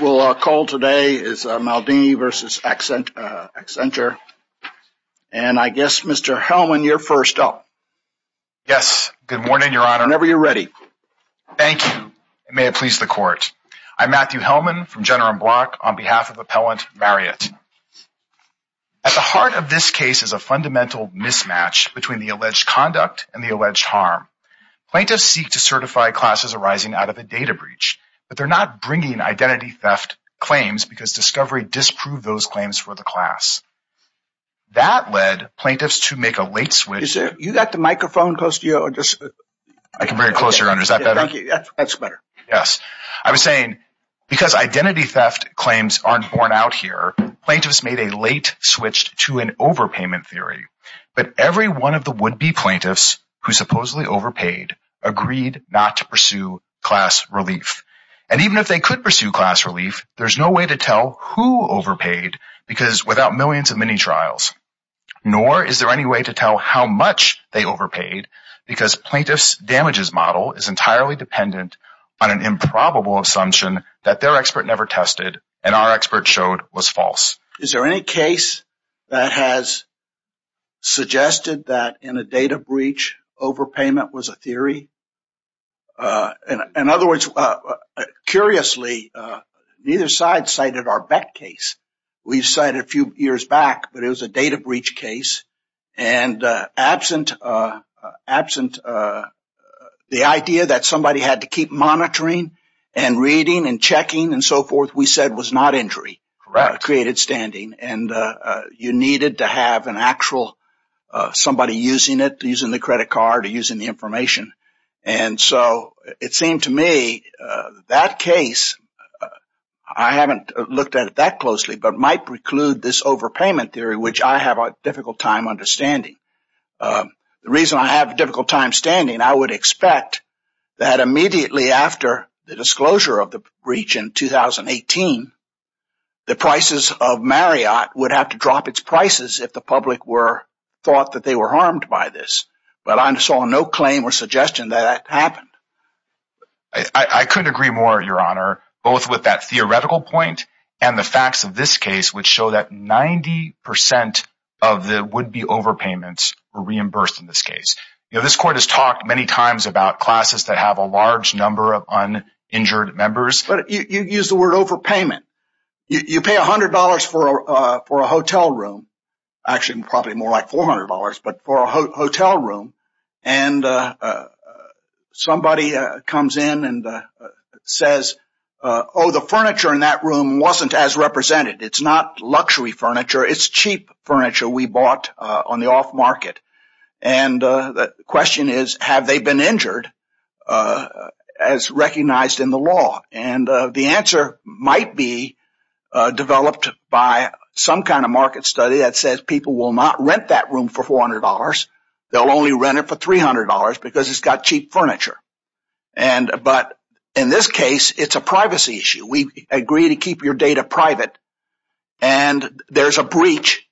Matthew Hellman on behalf of Appellant Marriott At the heart of this case is a fundamental mismatch between the alleged conduct and the alleged harm. Plaintiffs seek to certify classes arising out of a data breach, but they're not bringing identity theft claims because discovery disproved those claims for the class. That led plaintiffs to make a late switch to an overpayment theory, but every one of the would-be plaintiffs who supposedly overpaid agreed not to pursue class relief. And even if they could pursue class relief, there's no way to tell who overpaid because without millions of mini-trials, nor is there any way to tell how much they overpaid because plaintiff's damages model is entirely dependent on an improbable assumption that their expert never tested and our expert showed was false. Is there any case that has suggested that in a data breach overpayment was a theory? In other words, curiously, neither side cited our Beck case. We cited a few years back that it was a data breach case and absent the idea that somebody had to keep monitoring and reading and checking and so forth, we said it was not injury. Correct. It created standing and you needed to have an actual somebody using it, using the credit card or using the information. And so it seemed to me that case, I haven't looked at it that closely, but might preclude this overpayment theory, which I have a difficult time understanding. The reason I have a difficult time standing, I would expect that immediately after the disclosure of the breach in 2018, the prices of Marriott would have to drop its prices if the public were thought that they were harmed by this. But I saw no claim or suggestion that that happened. I couldn't agree more, Your Honor, both with that theoretical point and the facts of this case, which show that 90 percent of the would be overpayments were reimbursed in this case. You know, this court has talked many times about classes that have a large number of uninjured members. But you use the word overpayment. You pay $100 for a hotel room, actually probably more like $400. But for a hotel room and somebody comes in and says, oh, the furniture in that room wasn't as represented. It's not luxury furniture. It's cheap furniture we bought on the off market. And the question is, have they been injured as recognized in the law? And the answer might be developed by some kind of market study that says people will not rent that room for $400. They'll only rent it for $300 because it's got cheap furniture. And but in this case, it's a privacy issue. We agree to keep your data private and there's a breach.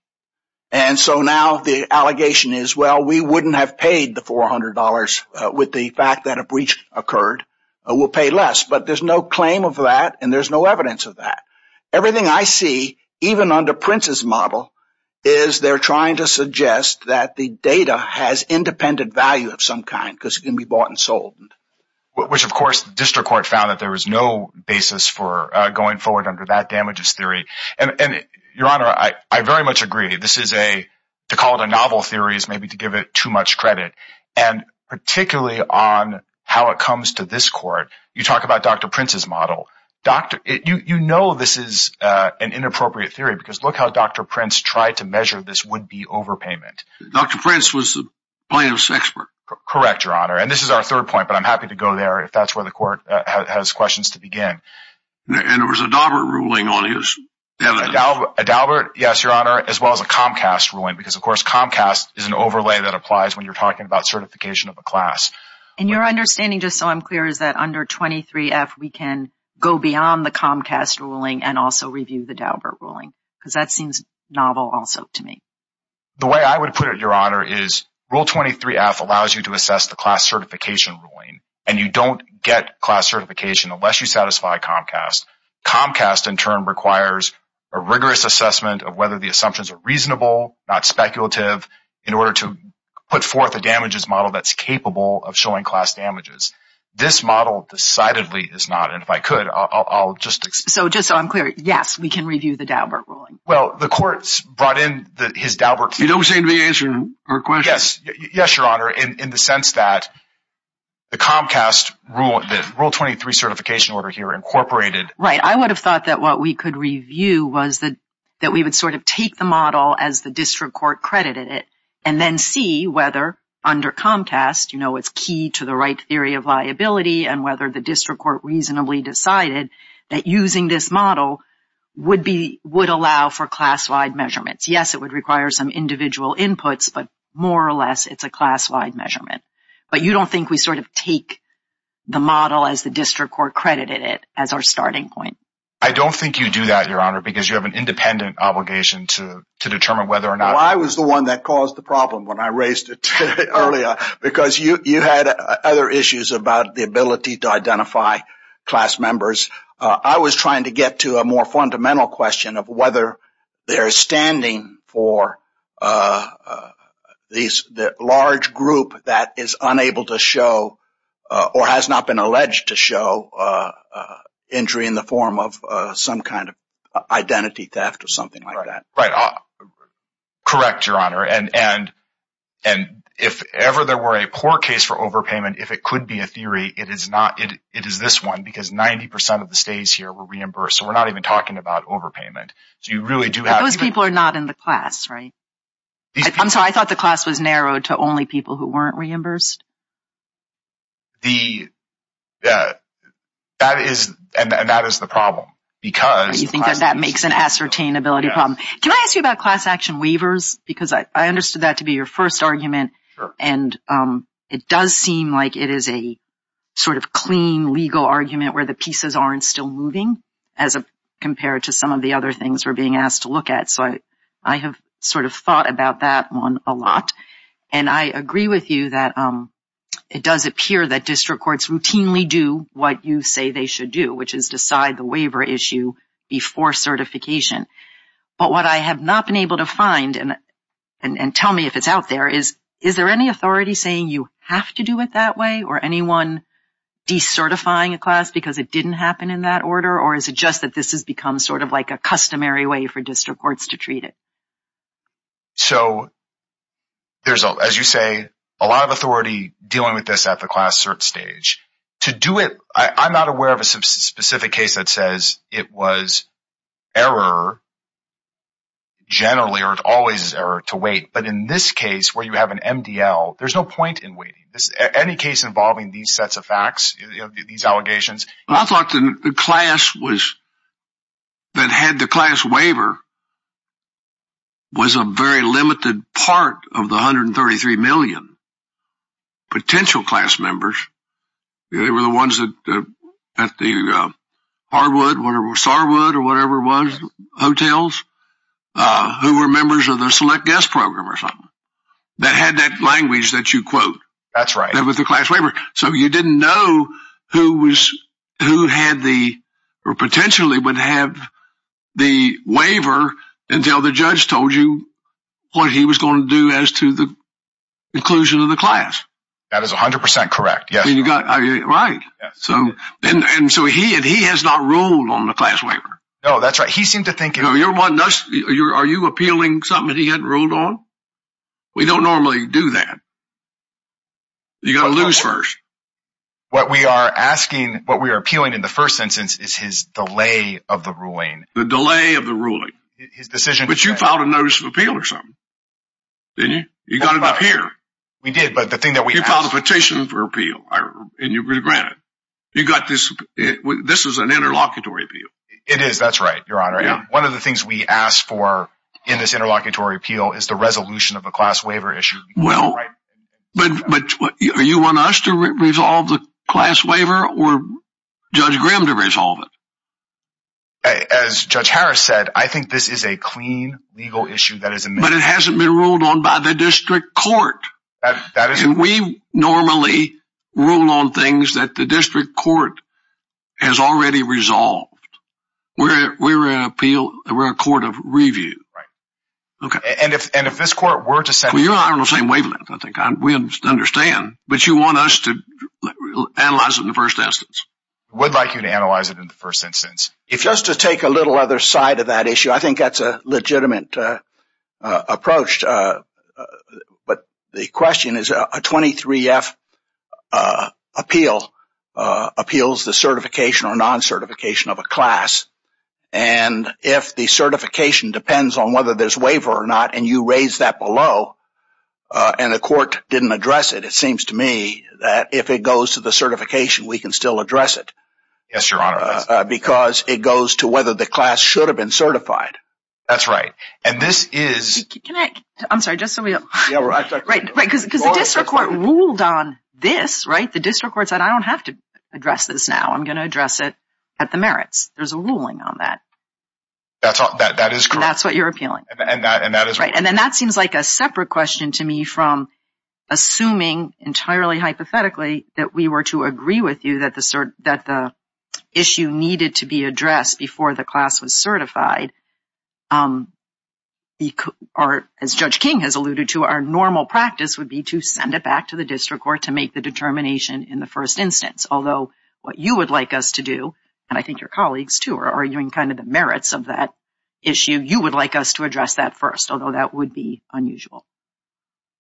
And so now the allegation is, well, we wouldn't have paid the $400 with the fact that a breach occurred. We'll pay less. But there's no claim of that and there's no evidence of that. Everything I see, even under Prince's model, is they're trying to suggest that the data has independent value of some kind because it can be bought and sold, which, of course, the district court found that there was no basis for going forward under that damages theory. And your honor, I very much agree. This is a to call it a novel theory is maybe to give it too much credit. And particularly on how it comes to this court, you talk about Dr. Prince's model. Doctor, you know, this is an inappropriate theory because look how Dr. Prince tried to measure this would be overpayment. Dr. Prince was the plaintiff's expert. Correct, your honor. And this is our third point, but I'm happy to go there if that's where the court has questions to begin. And there was a Dalbert ruling on this. Dalbert. Yes, your honor, as well as a Comcast ruling, because, of course, Comcast is an overlay that applies when you're talking about certification of a class. And your understanding, just so I'm clear, is that under 23 F, we can go beyond the Comcast ruling and also review the Dalbert ruling, because that seems novel also to me. The way I would put it, your honor, is Rule 23 F allows you to assess the class certification ruling and you don't get class certification unless you satisfy Comcast. Comcast, in turn, requires a rigorous assessment of whether the assumptions are reasonable, not speculative in order to put forth a damages model that's capable of showing class damages. This model decidedly is not. And if I could, I'll just. So just so I'm clear, yes, we can review the Dalbert ruling. Well, the courts brought in his Dalbert. You don't seem to be answering her question. Yes. Yes, your honor. In the sense that the Comcast rule, Rule 23 certification order here incorporated. Right. I would have thought that what we could review was that we would sort of take the model as the district court credited it and then see whether under Comcast, you know, it's key to the right theory of liability and whether the district court reasonably decided that using this model would be would allow for class wide measurements. Yes, it would require some individual inputs, but more or less it's a class wide measurement. But you don't think we sort of take the model as the district court credited it as our starting point? I don't think you do that, your honor, because you have an independent obligation to to determine whether or not I was the one that caused the problem when I raised it earlier because you had other issues about the ability to identify class members. I was trying to get to a more fundamental question of whether they are standing for these large group that is unable to show or has not been alleged to show injury in the form of some kind of identity theft or something like that. But correct, your honor, and and and if ever there were a poor case for overpayment, if it could be a theory, it is not it is this one because 90 percent of the states here were reimbursed. So we're not even talking about overpayment. So you really do have people are not in the class. Right. So I thought the class was narrowed to only people who weren't reimbursed. The that is and that is the problem because you think that that makes an ascertain ability. Can I ask you about class action waivers, because I understood that to be your first argument. And it does seem like it is a sort of clean legal argument where the pieces aren't still moving as compared to some of the other things we're being asked to look at. So I have sort of thought about that one a lot. And I agree with you that it does appear that district courts routinely do what you say they should do, which is decide the waiver issue before certification. But what I have not been able to find and tell me if it's out there is, is there any authority saying you have to do it that way or anyone decertifying a class because it didn't happen in that order? Or is it just that this has become sort of like a customary way for district courts to treat it? So. There's, as you say, a lot of authority dealing with this at the class search stage to do it, I'm not aware of a specific case that says it was error. Generally, or it's always error to wait, but in this case where you have an MDL, there's no point in waiting any case involving these sets of facts, these allegations. I thought the class was. That had the class waiver. Was a very limited part of the hundred and thirty three million. Potential class members, they were the ones that that the hardwood or starwood or whatever was hotels who were members of their select guest program or something that had that language that you quote, that's right, that was the class waiver. So you didn't know who was who had the or potentially would have the waiver until the judge told you what he was going to do as to the inclusion of the class. That is 100 percent correct. Yeah, you got it right. So and so he and he has not ruled on the class waiver. No, that's right. He seemed to think you're one of us. Are you appealing something he had ruled on? We don't normally do that. You got to lose first. What we are asking, what we are appealing in the first instance is his delay of the ruling, the delay of the ruling, his decision, which you found a notice of appeal or something. You got it up here. We did, but the thing that we found a petition for appeal and you regret it. You got this. This is an interlocutory. It is. That's right. Your honor. One of the things we ask for in this interlocutory appeal is the resolution of a class waiver issue. Well, but you want us to resolve the class waiver or judge Graham to resolve it? As Judge Harris said, I think this is a clean legal issue that is, but it hasn't been ruled on by the district court. We normally rule on things that the district court has already resolved. We're we're appeal. We're a court of review. And if and if this court were to say, we understand, but you want us to analyze it in the first instance, we'd like you to analyze it in the first instance. If just to take a little other side of that issue, I think that's a legitimate approach. But the question is a 23 F appeal appeals, the certification or non certification of a class. And if the certification depends on whether there's waiver or not and you raise that below and the court didn't address it, it seems to me that if it goes to the certification, we can still address it. Yes, your honor. Because it goes to whether the class should have been certified. That's right. And this is I'm sorry, just so we know, right, because the district court ruled on this, right? The district court said, I don't have to address this now. I'm going to address it at the merits. There's a ruling on that. That's that is that's what you're appealing and that is right. And then that seems like a separate question to me from assuming entirely hypothetically that we were to agree with you that the that the issue needed to be certified. Or as Judge King has alluded to, our normal practice would be to send it back to the district court to make the determination in the first instance. Although what you would like us to do, and I think your colleagues, too, are arguing kind of the merits of that issue. You would like us to address that first, although that would be unusual.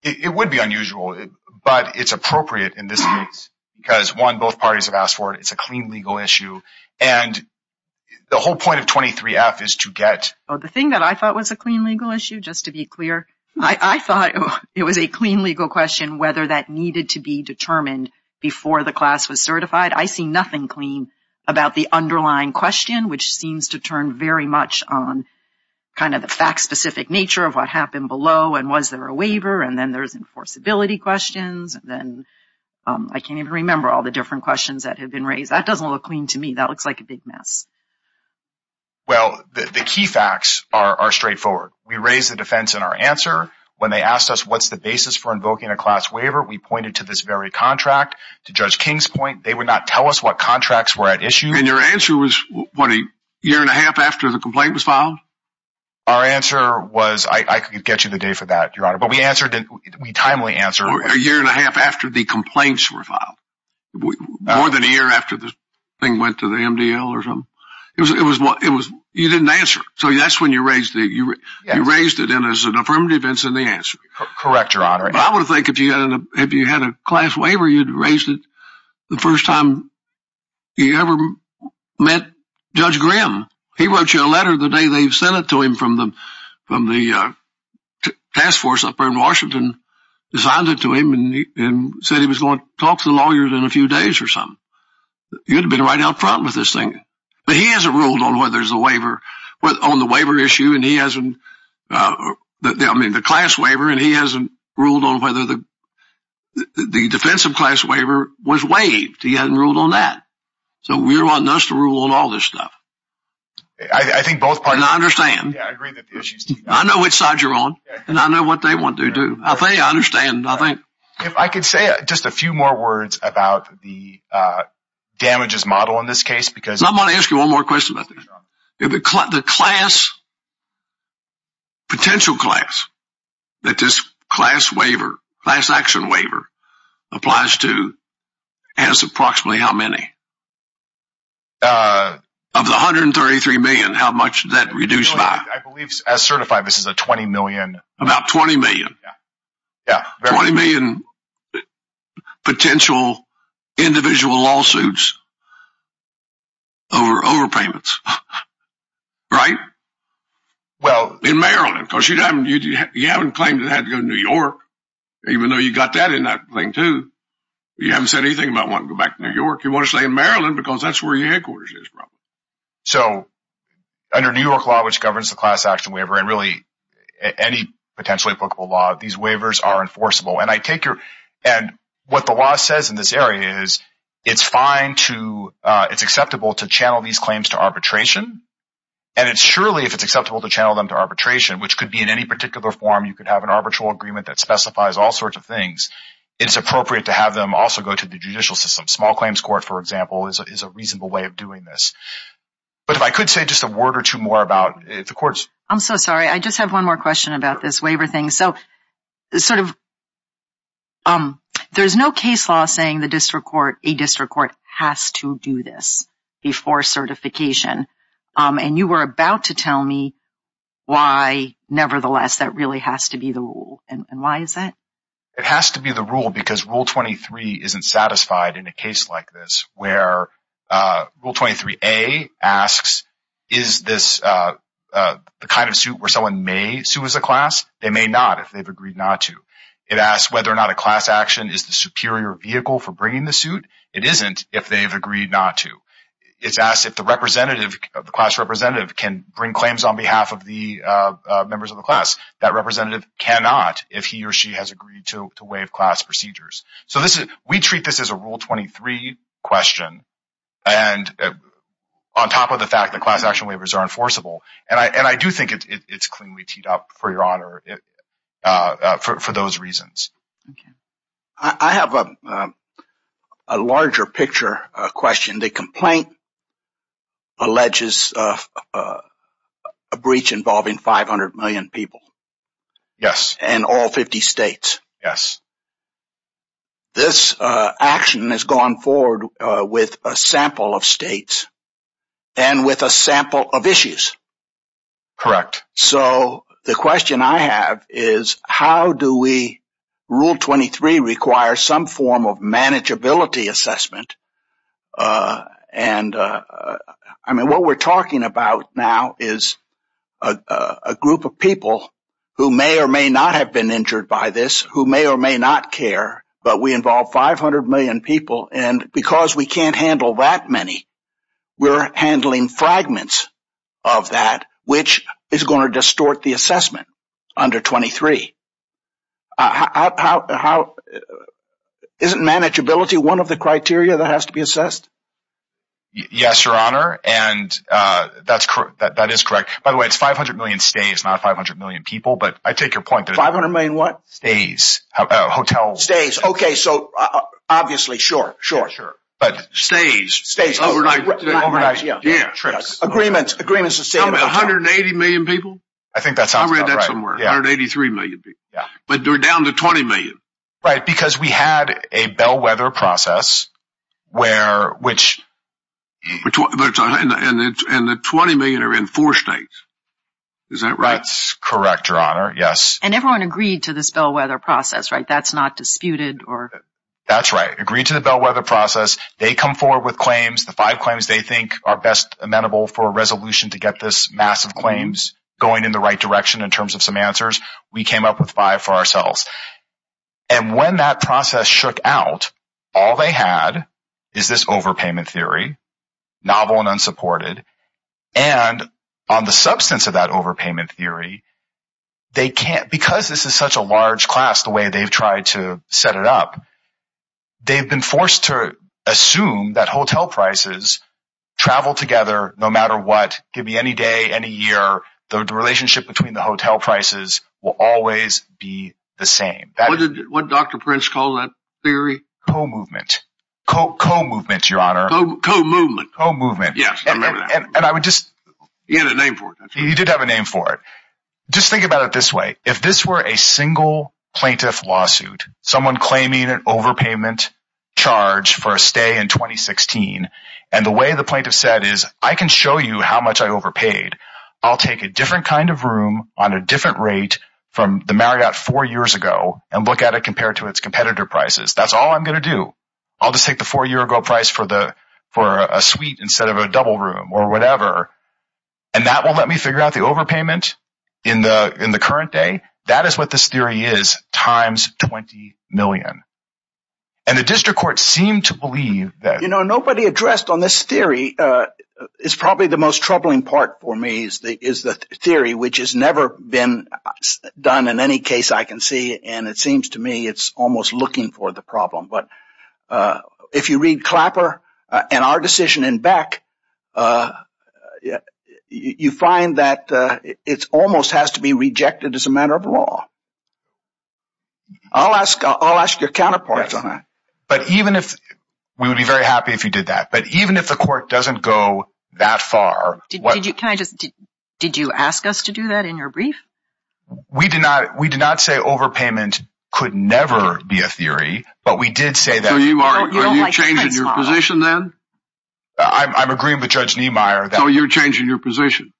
It would be unusual, but it's appropriate in this case because, one, both parties have for it. It's a clean legal issue. And the whole point of 23 Act is to get the thing that I thought was a clean legal issue. Just to be clear, I thought it was a clean legal question whether that needed to be determined before the class was certified. I see nothing clean about the underlying question, which seems to turn very much on kind of the fact specific nature of what happened below. And was there a waiver? And then there's enforceability questions. Then I can't even remember all the different questions that have been raised. That doesn't look clean to me. That looks like a big mess. Well, the key facts are straightforward. We raise the defense in our answer when they asked us, what's the basis for invoking a class waiver? We pointed to this very contract. To Judge King's point, they would not tell us what contracts were at issue. And your answer was, what, a year and a half after the complaint was filed? Our answer was, I could get you the date for that, Your Honor. But we answered it. We timely answer a year and a half after the complaints were filed. More than a year after the thing went to the MDL or something. It was what it was. You didn't answer. So that's when you raised it. You raised it in as an affirmative defense in the answer. Correct, Your Honor. I would think if you had a class waiver, you'd raise it the first time you ever met Judge Graham. He wrote you a letter the day they sent it to him from the from the task force. Washington designed it to him and said he was going to talk to the lawyers in a few days or something. You'd be right out front with this thing. But he hasn't ruled on whether there's a waiver on the waiver issue. And he hasn't. I mean, the class waiver. And he hasn't ruled on whether the defensive class waiver was waived. He hadn't ruled on that. So we're wanting us to rule all this stuff. I think both parties. I understand. I agree that I know which side you're on and I know what they want to do. I think I understand. I think if I could say just a few more words about the damages model in this case, because I'm going to ask you one more question about the class. Potential class that this class waiver class action waiver applies to has approximately how many? Of the hundred and thirty three million, how much that reduced by? I believe as certified, this is a 20 million, about 20 million. Yeah, 20 million potential individual lawsuits. Over overpayments. Right. Well, in Maryland, because you haven't claimed that in New York, even though you got that in that thing, too, you haven't said anything about wanting to go back to New York. You want to stay in Maryland because that's where your headquarters is. So under New York law, which governs the class action waiver and really any potentially applicable law, these waivers are enforceable. And I take care. And what the law says in this area is it's fine to it's acceptable to channel these claims to arbitration. And it's surely if it's acceptable to channel them to arbitration, which could be in any particular form, you could have an arbitral agreement that specifies all sorts of things. It's appropriate to have them also go to the judicial system. Small claims court, for example, is a reasonable way of doing this. But if I could say just a word or two more about the courts. I'm so sorry. I just have one more question about this waiver thing. So sort of. There is no case law saying the district court, a district court has to do this before certification. And you were about to tell me why. Nevertheless, that really has to be the rule. And why is that? It has to be the rule because Rule 23 isn't satisfied in a case like this where Rule 23 A asks, is this the kind of suit where someone may sue as a class? They may not if they've agreed not to. It asks whether or not a class action is the superior vehicle for bringing the suit. It isn't if they've agreed not to. It's asked if the representative of the class representative can bring claims on behalf of the members of the class. That representative cannot if he or she has agreed to waive class procedures. So this is we treat this as a Rule 23 question. And on top of the fact that class action waivers are enforceable. And I do think it's cleanly teed up for your honor for those reasons. I have a larger picture question. The complaint. Alleges a breach involving 500 million people. Yes. And all 50 states. Yes. This action has gone forward with a sample of states and with a sample of issues. Correct. So the question I have is, how do we Rule 23 require some form of manageability assessment? And I mean, what we're talking about now is a group of people. Who may or may not have been injured by this, who may or may not care. But we involve 500 million people. And because we can't handle that many, we're handling fragments of that, which is going to distort the assessment under 23. How is it manageability? One of the criteria that has to be assessed. Yes, your honor. And that's that is correct. By the way, it's 500 million stays, not 500 million people. But I take your point. 500 million what? Stays. Hotel stays. OK, so obviously. Sure. Sure. Sure. But stays. Stays overnight. Yeah. Agreements. Agreements. A hundred and eighty million people. I think that's how I read that somewhere. Yeah. Eighty three million. Yeah. But they're down to 20 million. Right. Because we had a bellwether process where which. And the 20 million are in four states. Is that right? Correct. Your honor. Yes. And everyone agreed to this bellwether process. Right. That's not disputed or. That's right. Agreed to the bellwether process. They come forward with claims. The five claims they think are best amenable for a resolution to get this massive claims going in the right direction in terms of some answers. We came up with five for ourselves. And when that process shook out, all they had is this overpayment theory. Novel and unsupported. And on the substance of that overpayment theory, they can't because this is such a large class, the way they've tried to set it up. They've been forced to assume that hotel prices travel together no matter what. Give me any day, any year. The relationship between the hotel prices will always be the same. What Dr. Prince call that theory? Co-movement. Co-movement, your honor. Co-movement. Co-movement. Yes. And I would just. You had a name for it. You did have a name for it. Just think about it this way. If this were a single plaintiff lawsuit, someone claiming an overpayment charge for a stay in 2016 and the way the plaintiff said is, I can show you how much I overpaid. I'll take a different kind of room on a different rate from the Marriott four years ago and look at it compared to its competitor prices. That's all I'm going to do. I'll just take the four year ago price for the for a suite instead of a double room or whatever. And that will let me figure out the overpayment in the in the current day. That is what this theory is. Times 20 million. And the district court seemed to believe that, you know, nobody addressed on this theory is probably the most troubling part for me is the theory, which has never been done in any case I can see. And it seems to me it's almost looking for the problem. But if you read Clapper and our decision in Beck, you find that it's almost has to be rejected as a matter of law. I'll ask, I'll ask your counterpart, but even if we would be very happy if you did that, but even if the court doesn't go that far, what did you kind of did you ask us to do that in your brief? We did not. We did not say overpayment could never be a theory, but we did say that you are changing your position, then I'm agreeing with Judge Niemeyer, though, you're changing your position.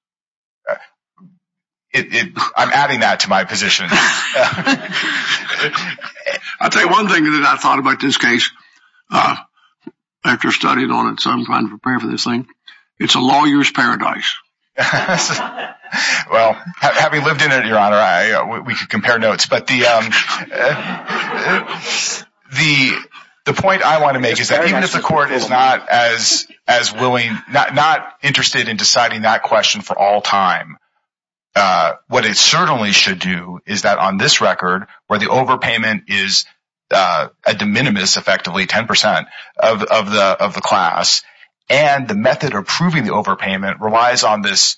I'm adding that to my position. I'll tell you one thing that I thought about this case after studying on it. So I'm going to prepare for this thing. It's a lawyer's paradise. Yes, well, having lived in it, your honor, we can compare notes, but the the the point I want to make is that even if the court is not as as willing, not interested in deciding that question for all time, what it certainly should do is that on this record where the overpayment is a de minimis, effectively 10 percent of the of the class and the method of proving the overpayment relies on this.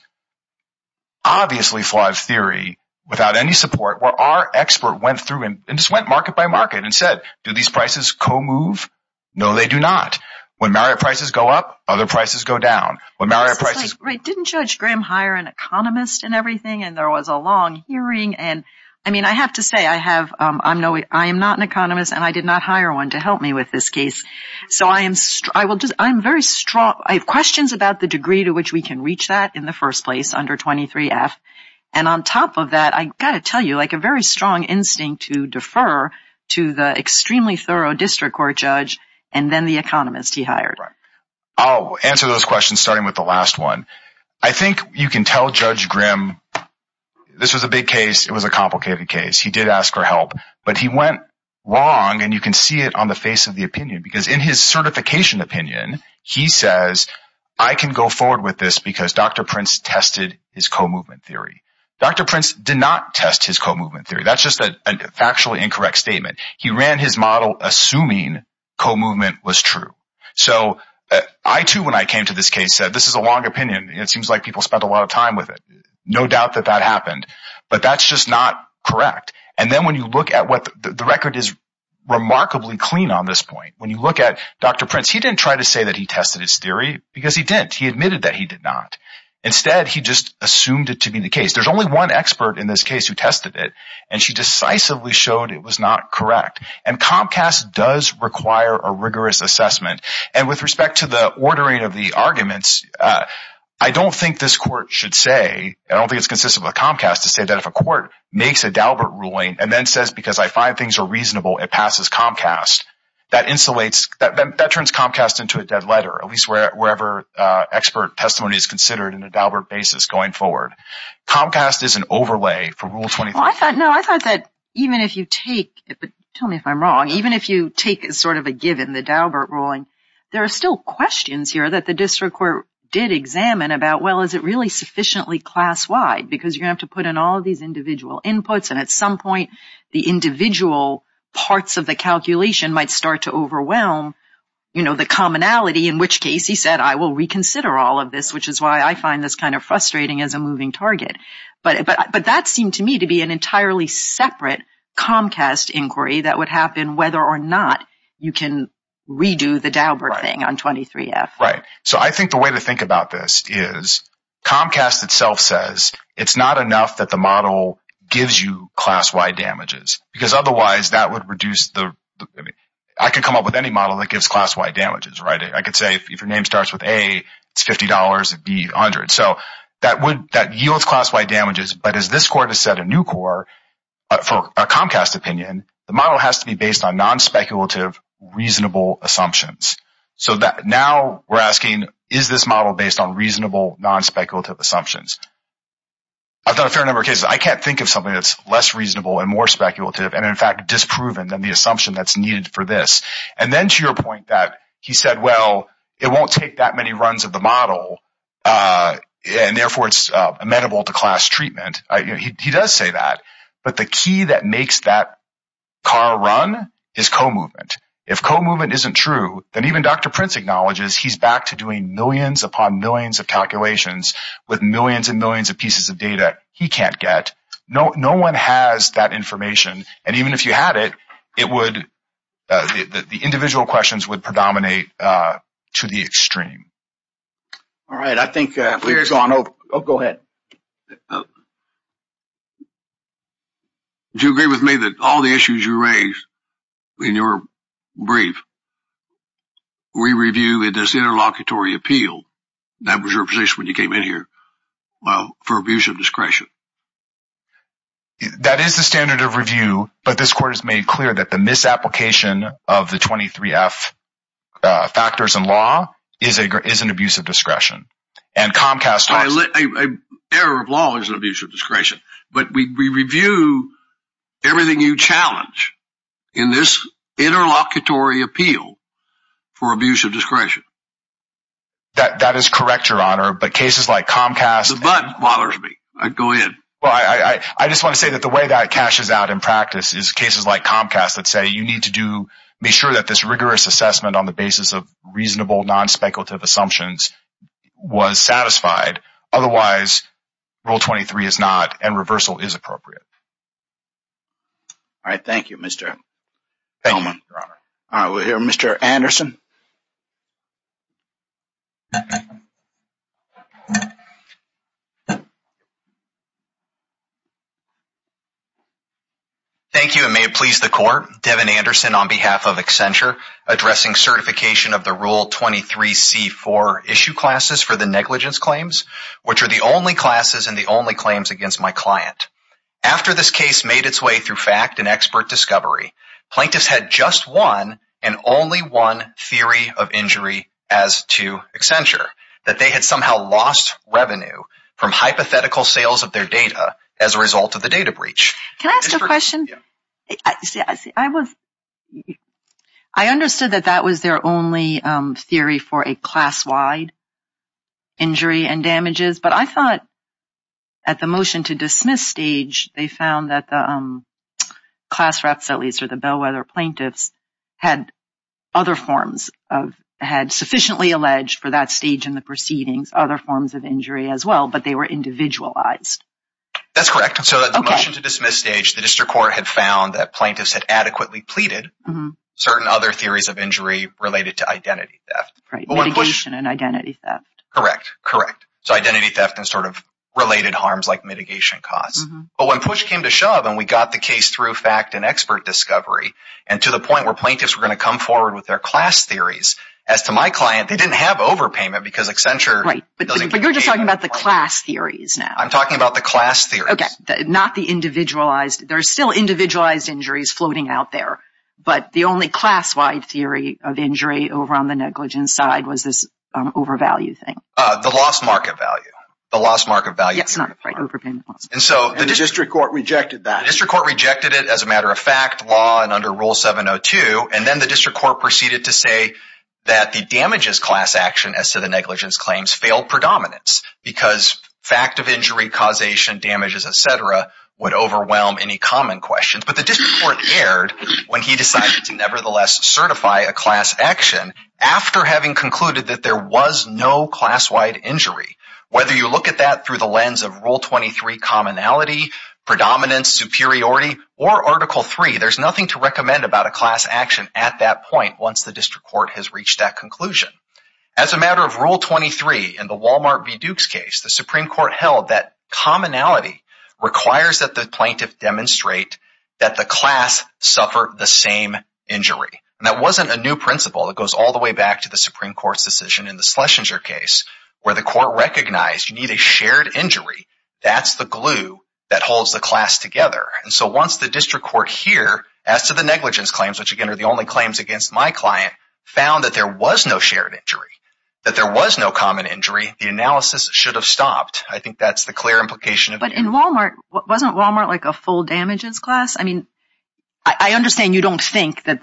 Obviously, flawed theory without any support, where our expert went through and just went market by market and said, do these prices co-move? No, they do not. When marriott prices go up, other prices go down. When Marriott prices didn't judge Graham, hire an economist and everything. And there was a long hearing. And I mean, I have to say I have I'm no I am not an economist and I did not hire one to help me with this case. So I am I will I'm very strong. I have questions about the degree to which we can reach that in the first place under twenty three F. And on top of that, I got to tell you, like a very strong instinct to defer to the extremely thorough district court judge and then the economist he hired. I'll answer those questions starting with the last one. I think you can tell Judge Graham this is a big case. It was a complicated case. He did ask for help, but he went wrong. And you can see it on the face of the opinion, because in his certification opinion, he says, I can go forward with this because Dr. Prince tested his co-movement theory. Dr. Prince did not test his co-movement theory. That's just a factually incorrect statement. He ran his model assuming co-movement was true. So I, too, when I came to this case, said this is a long opinion. It seems like people spent a lot of time with it. No doubt that that happened, but that's just not correct. And then when you look at what the record is remarkably clean on this point, when you look at Dr. Prince, he didn't try to say that he tested his theory because he didn't. He admitted that he did not. Instead, he just assumed it to be the case. There's only one expert in this case who tested it, and she decisively showed it was not correct. And Comcast does require a rigorous assessment. And with respect to the ordering of the arguments, I don't think this court should say I don't think it's consistent with Comcast to say that if a court makes a Daubert ruling and then says, because I find things are reasonable, it passes Comcast. That insulates that turns Comcast into a dead letter, at least wherever expert testimony is considered in the Daubert basis going forward. Comcast is an overlay for rule 20. Well, I thought, no, I thought that even if you take, tell me if I'm wrong, even if you take sort of a given the Daubert ruling, there are still questions here that the district court did examine about, well, is it really sufficiently class wide? Because you have to put in all these individual inputs. And at some point, the individual parts of the calculation might start to overwhelm, you know, the commonality, in which case he said, I will reconsider all of this, which is why I find this kind of frustrating as a moving target. But but that seemed to me to be an entirely separate Comcast inquiry that would happen whether or not you can redo the Daubert thing on 23 F. Right. So I think the way to think about this is Comcast itself says it's not enough that the model gives you class wide damages because otherwise that would reduce the I could come up with any model that gives class wide damages. Right. I could say if your name starts with a fifty dollars, it'd be a hundred. So that would yield class wide damages. But as this court has said, a new court for a Comcast opinion, the model has to be based on non-speculative, reasonable assumptions. So that now we're asking, is this model based on reasonable, non-speculative assumptions? I've got a fair number of cases I can't think of something that's less reasonable and more speculative and in fact disproven than the assumption that's needed for this. And then to your point that he said, well, it won't take that many runs of the model and therefore it's amenable to class treatment. He does say that. But the key that makes that car run is co-movement. If co-movement isn't true, then even Dr. Prince acknowledges he's back to doing millions upon millions of calculations with millions and millions of pieces of data he can't get. No, no one has that information. And even if you had it, it would the individual questions would predominate to the extreme. All right, I think I'll go ahead. Do you agree with me that all the issues you raised in your brief, we reviewed this interlocutory appeal that was your position when you came in here for abuse of discretion? That is the standard of review, but this court has made clear that the misapplication of the 23 F factors in law is an abuse of discretion. And Comcast's error of law is an abuse of discretion. But we review everything you challenge in this interlocutory appeal for abuse of discretion. That is correct, Your Honor, but cases like Comcast bothers me, I go in. Well, I just want to say that the way that it cashes out in practice is cases like Comcast that say you need to do make sure that this rigorous assessment on the basis of reasonable non-speculative assumptions was satisfied. Otherwise, Rule 23 is not and reversal is appropriate. All right, thank you, Mr. Thank you, Your Honor. I will hear Mr. Anderson. Thank you, and may it please the court, Devin Anderson, on behalf of Accenture, addressing certification of the Rule 23 C4 issue classes for the negligence claims, which are the only classes and the only claims against my client. After this case made its way through fact and expert discovery, Plaintiff had just one and only one theory of injury as to Accenture, that they had somehow lost revenue from hypothetical sales of their data as a result of the data breach. Can I ask a question? Yeah, I was. I understood that that was their only theory for a class wide. Injury and damages, but I thought. At the motion to dismiss stage, they found that the class reps, at least for the Bellwether plaintiffs, had other forms of had sufficiently alleged for that stage in the proceedings, other forms of injury as well, but they were individualized. That's correct. So at the motion to dismiss stage, the district court had found that plaintiffs had adequately pleaded certain other theories of injury related to identity theft and identity theft. Correct. Correct. So identity theft and sort of related harms like mitigation costs. But when push came to shove and we got the case through fact and expert discovery and to the point where plaintiffs were going to come forward with their class theories as to my client, they didn't have overpayment because Accenture. Right. But you're just talking about the class theories now. I'm talking about the class theory. Okay. Not the individualized. There's still individualized injuries floating out there. But the only class wide theory of injury over on the negligence side was this overvalued thing. The lost market value, the lost market value. And so the district court rejected that district court rejected it as a matter of fact law and under Rule 702. And then the district court proceeded to say that the damages class action as to the negligence claims failed predominance because fact of injury, causation, damages, et cetera, would overwhelm any common questions. But the district court erred when he decided to nevertheless certify a class action after having concluded that there was no class wide injury. Whether you look at that through the lens of Rule 23 commonality, predominance, superiority or Article 3, there's nothing to recommend about a class action at that point. Once the district court has reached that conclusion as a matter of rule, Rule 23 and the Walmart v. Dukes case, the Supreme Court held that commonality requires that the plaintiff demonstrate that the class suffered the same injury. And that wasn't a new principle. It goes all the way back to the Supreme Court's decision in the Schlesinger case where the court recognized you need a shared injury. That's the glue that holds the class together. And so once the district court here as to the negligence claims, which, again, are the only claims against my client, found that there was no shared injury, that there was no common injury, the analysis should have stopped. I think that's the clear implication. But in Walmart, wasn't Walmart like a full damages class? I mean, I understand you don't think that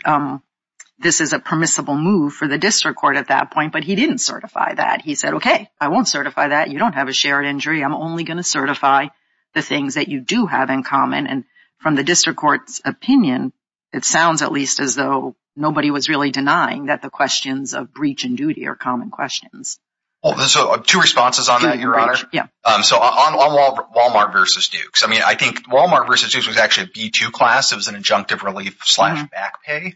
this is a permissible move for the district court at that point, but he didn't certify that. He said, OK, I won't certify that. You don't have a shared injury. I'm only going to certify the things that you do have in common. And from the district court's opinion, it sounds at least as though nobody was really denying that the questions of breach and duty are common questions. Well, there's two responses on that, Your Honor. Yeah. So on Walmart versus Dukes, I mean, I think Walmart versus Dukes was actually a B-2 class. It was an adjunctive relief slash back pay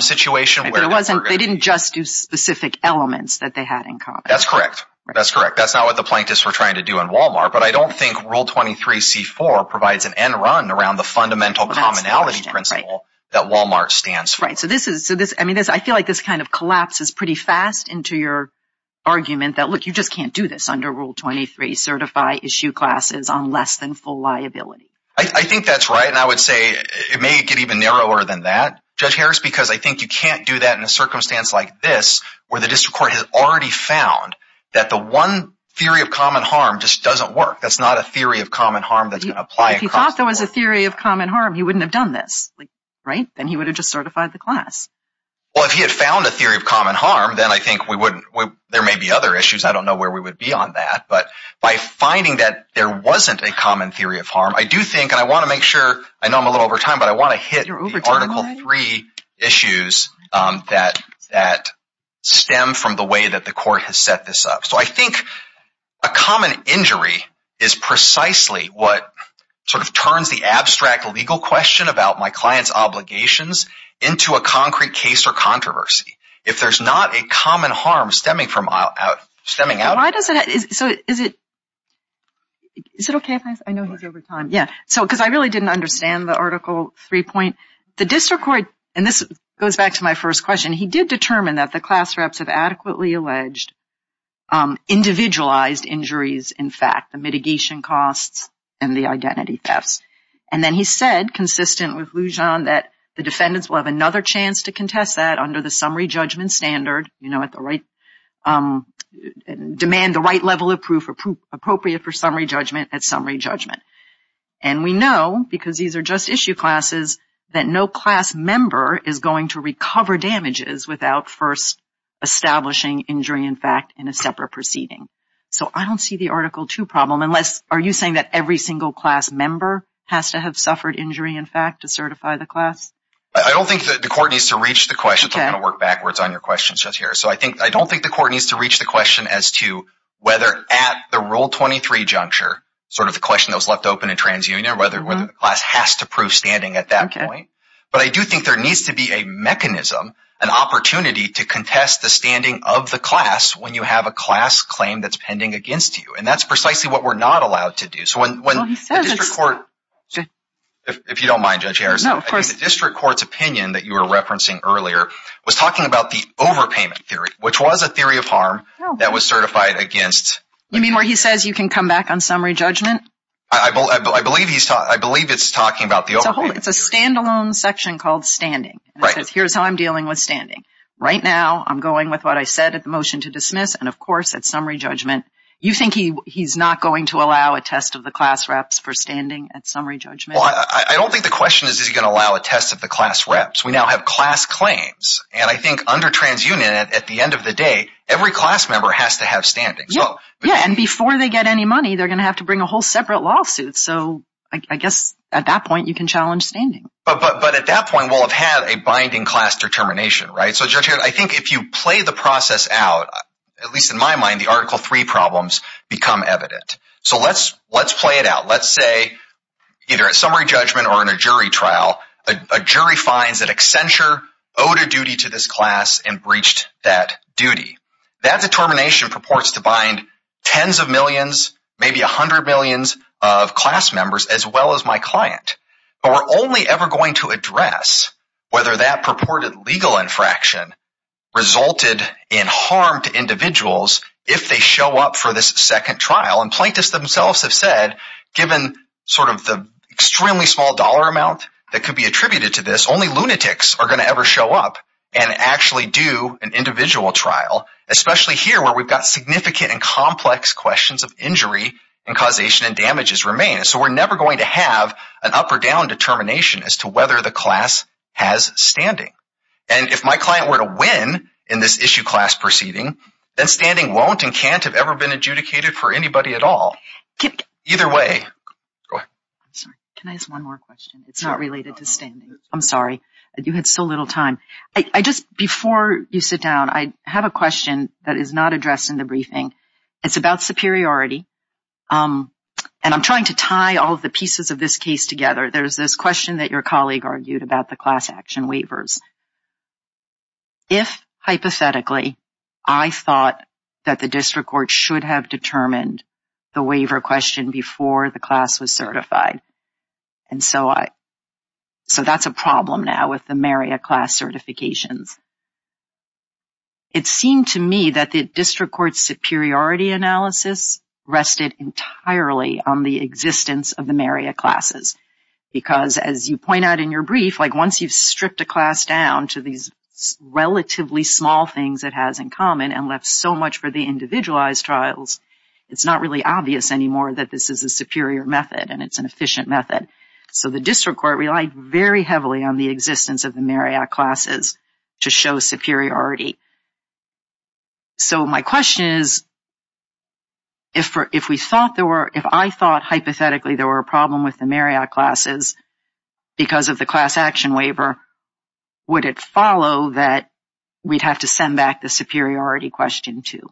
situation. They didn't just do specific elements that they had in common. That's correct. That's correct. That's not what the plaintiffs were trying to do in Walmart. But I don't think Rule 23 C-4 provides an end run around the fundamental commonality principle that Walmart stands for. Right. I mean, I feel like this kind of collapses pretty fast into your argument that, look, you just can't do this under Rule 23, certify issue classes on less than full liability. I think that's right. And I would say it may get even narrower than that, Judge Harris, because I think you can't do that in a circumstance like this, where the district court has already found that the one theory of common harm just doesn't work. That's not a theory of common harm that applies. If he thought there was a theory of common harm, he wouldn't have done this, right? And he would have just certified the class. Well, if he had found a theory of common harm, then I think we wouldn't. There may be other issues. I don't know where we would be on that. But by finding that there wasn't a common theory of harm, I do think, and I want to make sure, I know I'm a little over time, but I want to hit Article 3 issues that stem from the way that the court has set this up. So I think a common injury is precisely what sort of turns the abstract legal question about my client's obligations into a concrete case or controversy. If there's not a common harm stemming out of that. Why does it, so is it, is it okay if I, I know you're over time. Yeah, so because I really didn't understand the Article 3 point. The district court, and this goes back to my first question, he did determine that the class reps have adequately alleged individualized injuries, in fact, the mitigation costs and the identity theft. And then he said, consistent with Lujan, that the defendants will have another chance to contest that under the summary judgment standard, you know, at the right, demand the right level of proof appropriate for summary judgment at summary judgment. And we know, because these are just issue classes, that no class member is going to recover damages without first establishing injury, in fact, in a separate proceeding. So I don't see the Article 2 problem unless, are you saying that every single class member has to have suffered injury, in fact, to certify the class? I don't think that the court needs to reach the question, so I'm going to work backwards on your questions just here. So I think, I don't think the court needs to reach the question as to whether at the Rule 23 juncture, sort of the question that was left open in TransUnion, whether the class has to prove standing at that point. But I do think there needs to be a mechanism, an opportunity to contest the standing of the class when you have a class claim that's pending against you. And that's precisely what we're not allowed to do. So when the district court, if you don't mind, Judge Harris, I think the district court's opinion that you were referencing earlier was talking about the overpayment theory, which was a theory of harm that was certified against- You mean where he says you can come back on summary judgment? I believe he's talking, I believe it's talking about the overpayment theory. It's a standalone section called standing. Right. Here's how I'm dealing with standing. Right now, I'm going with what I said at the motion to dismiss, and of course, at summary judgment, you think he's not going to allow a test of the class reps for standing at summary judgment? Well, I don't think the question is, is he going to allow a test of the class reps? We now have class claims. And I think under TransUnion, at the end of the day, every class member has to have standing. Yeah. And before they get any money, they're going to have to bring a whole separate lawsuit. So I guess at that point you can challenge standing. But at that point, we'll have had a binding class determination, right? So Judge, I think if you play the process out, at least in my mind, the Article III problems become evident. So let's play it out. Let's say either at summary judgment or in a jury trial, a jury finds that Accenture owed a duty to this class and breached that duty. That determination purports to bind tens of millions, maybe 100 millions of class members as well as my client. But we're only ever going to address whether that purported legal infraction resulted in harm to individuals if they show up for this second trial. And plaintiffs themselves have said, given sort of the extremely small dollar amount that could be attributed to this, only lunatics are going to ever show up and actually do an individual trial, especially here where we've got significant and complex questions of injury and causation and damages remain. So we're never going to have an up or down determination as to whether the class has standing. And if my client were to win in this issue class proceeding, then standing won't and can't have ever been adjudicated for anybody at all. Either way. Can I ask one more question? It's not related to standing. I'm sorry. You had so little time. Before you sit down, I have a question that is not addressed in the briefing. It's about superiority. And I'm trying to tie all of the pieces of this case together. There's this question that your colleague argued about the class action waivers. If hypothetically, I thought that the district court should have determined the waiver question before the class was certified. And so I. So that's a problem now with the Meria class certifications. It seemed to me that the district court superiority analysis rested entirely on the existence of the Meria classes, because as you point out in your brief, like once you stripped a class down to these relatively small things it has in common and left so much for the individualized trials, it's not really obvious anymore that this is a superior method and it's an efficient method. So the district court relied very heavily on the existence of the Meria classes. To show superiority. So my question is. If for if we thought there were if I thought hypothetically there were a problem with the Meria classes because of the class action waiver, would it follow that we'd have to send back the superiority question to.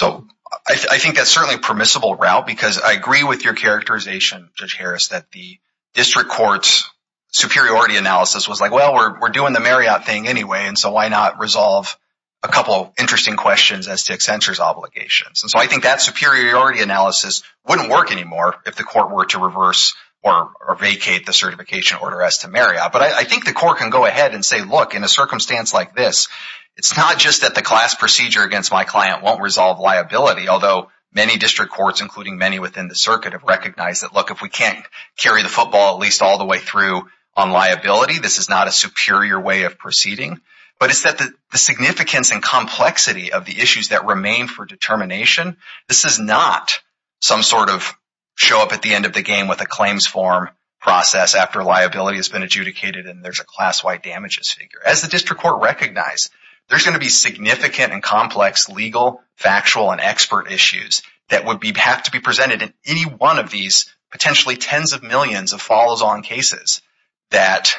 So I think that's certainly permissible route, because I agree with your characterization, Judge Harris, that the district court's superiority analysis was like, well, we're doing the Marriott thing anyway, and so why not resolve a couple of interesting questions as to Accenture's obligations? So I think that superiority analysis wouldn't work anymore if the court were to reverse or vacate the certification order as to Marriott. But I think the court can go ahead and say, look, in a circumstance like this, it's not just that the class procedure against my client won't resolve liability, although many district courts, including many within the circuit, have recognized that, look, if we can't carry the football at least all the way through on liability, this is not a superior way of proceeding, but it's that the significance and complexity of the issues that remain for determination, this is not some sort of show up at the end of the game with a claims form process after liability has been adjudicated and there's a class-wide damages figure. As the district court recognized, there's going to be significant and complex legal, factual, and expert issues that would have to be presented in any one of these potentially tens of millions of falls-on cases that,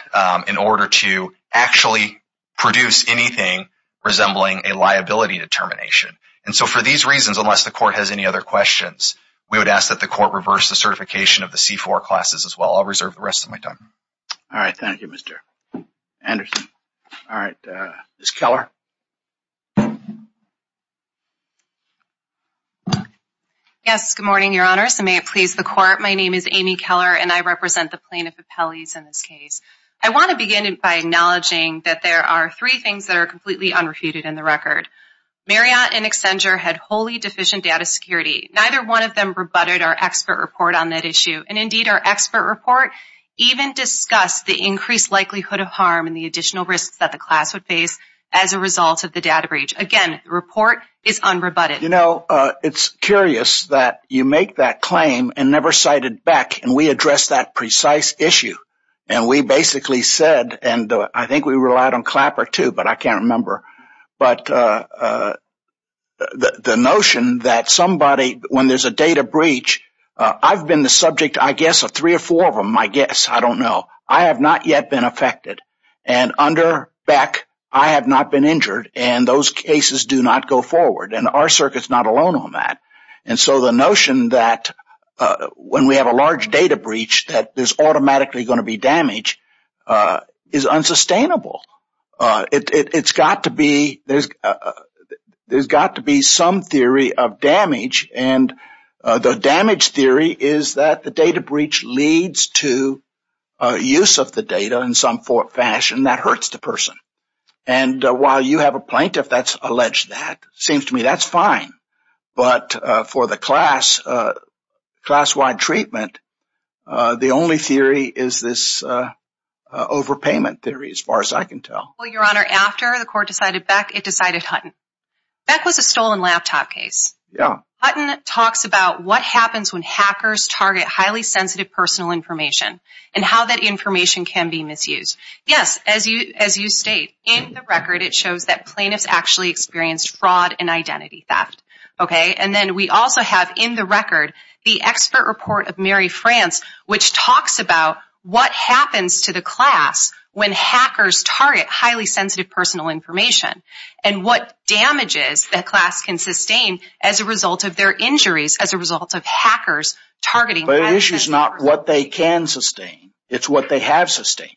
in order to actually produce anything resembling a liability determination. And so for these reasons, unless the court has any other questions, we would ask that the court reverse the certification of the C-4 classes as well. I'll reserve the rest of my time. All right. Thank you, Mr. Anderson. All right. Ms. Keller? Yes. Good morning, Your Honors, and may it please the court. My name is Amy Keller, and I represent the plaintiff's appellees in this case. I want to begin by acknowledging that there are three things that are completely unrefuted in the record. Marriott and Accenture had wholly deficient data security. Neither one of them rebutted our expert report on that issue, and indeed, our expert report even discussed the increased likelihood of harm and the additional risks that the class would face as a result of the data breach. Again, the report is unrebutted. You know, it's curious that you make that claim and never cited Beck, and we addressed that precise issue. And we basically said, and I think we relied on Clapper, too, but I can't remember, but the notion that somebody, when there's a data breach, I've been the subject, I guess, of three or four of them, I guess. I don't know. I have not yet been affected. And under Beck, I have not been injured, and those cases do not go forward. And our circuit's not alone on that. And so the notion that when we have a large data breach, that there's automatically going to be damage is unsustainable. It's got to be, there's got to be some theory of damage, and the damage theory is that the data breach leads to use of the data in some fashion that hurts the person. And while you have a plaintiff that's alleged to that, it seems to me that's fine, but for the class, class-wide treatment, the only theory is this overpayment theory, as far as I can tell. Well, Your Honor, after the court decided Beck, it decided Hutton. Beck was a stolen laptop case. Yeah. Hutton talks about what happens when hackers target highly sensitive personal information and how that information can be misused. Yes. As you state, in the record, it shows that plaintiffs actually experienced fraud and identity theft. Okay? And then we also have, in the record, the expert report of Mary France, which talks about what happens to the class when hackers target highly sensitive personal information and what damages that class can sustain as a result of their injuries, as a result of hackers targeting them. But the issue is not what they can sustain. It's what they have sustained.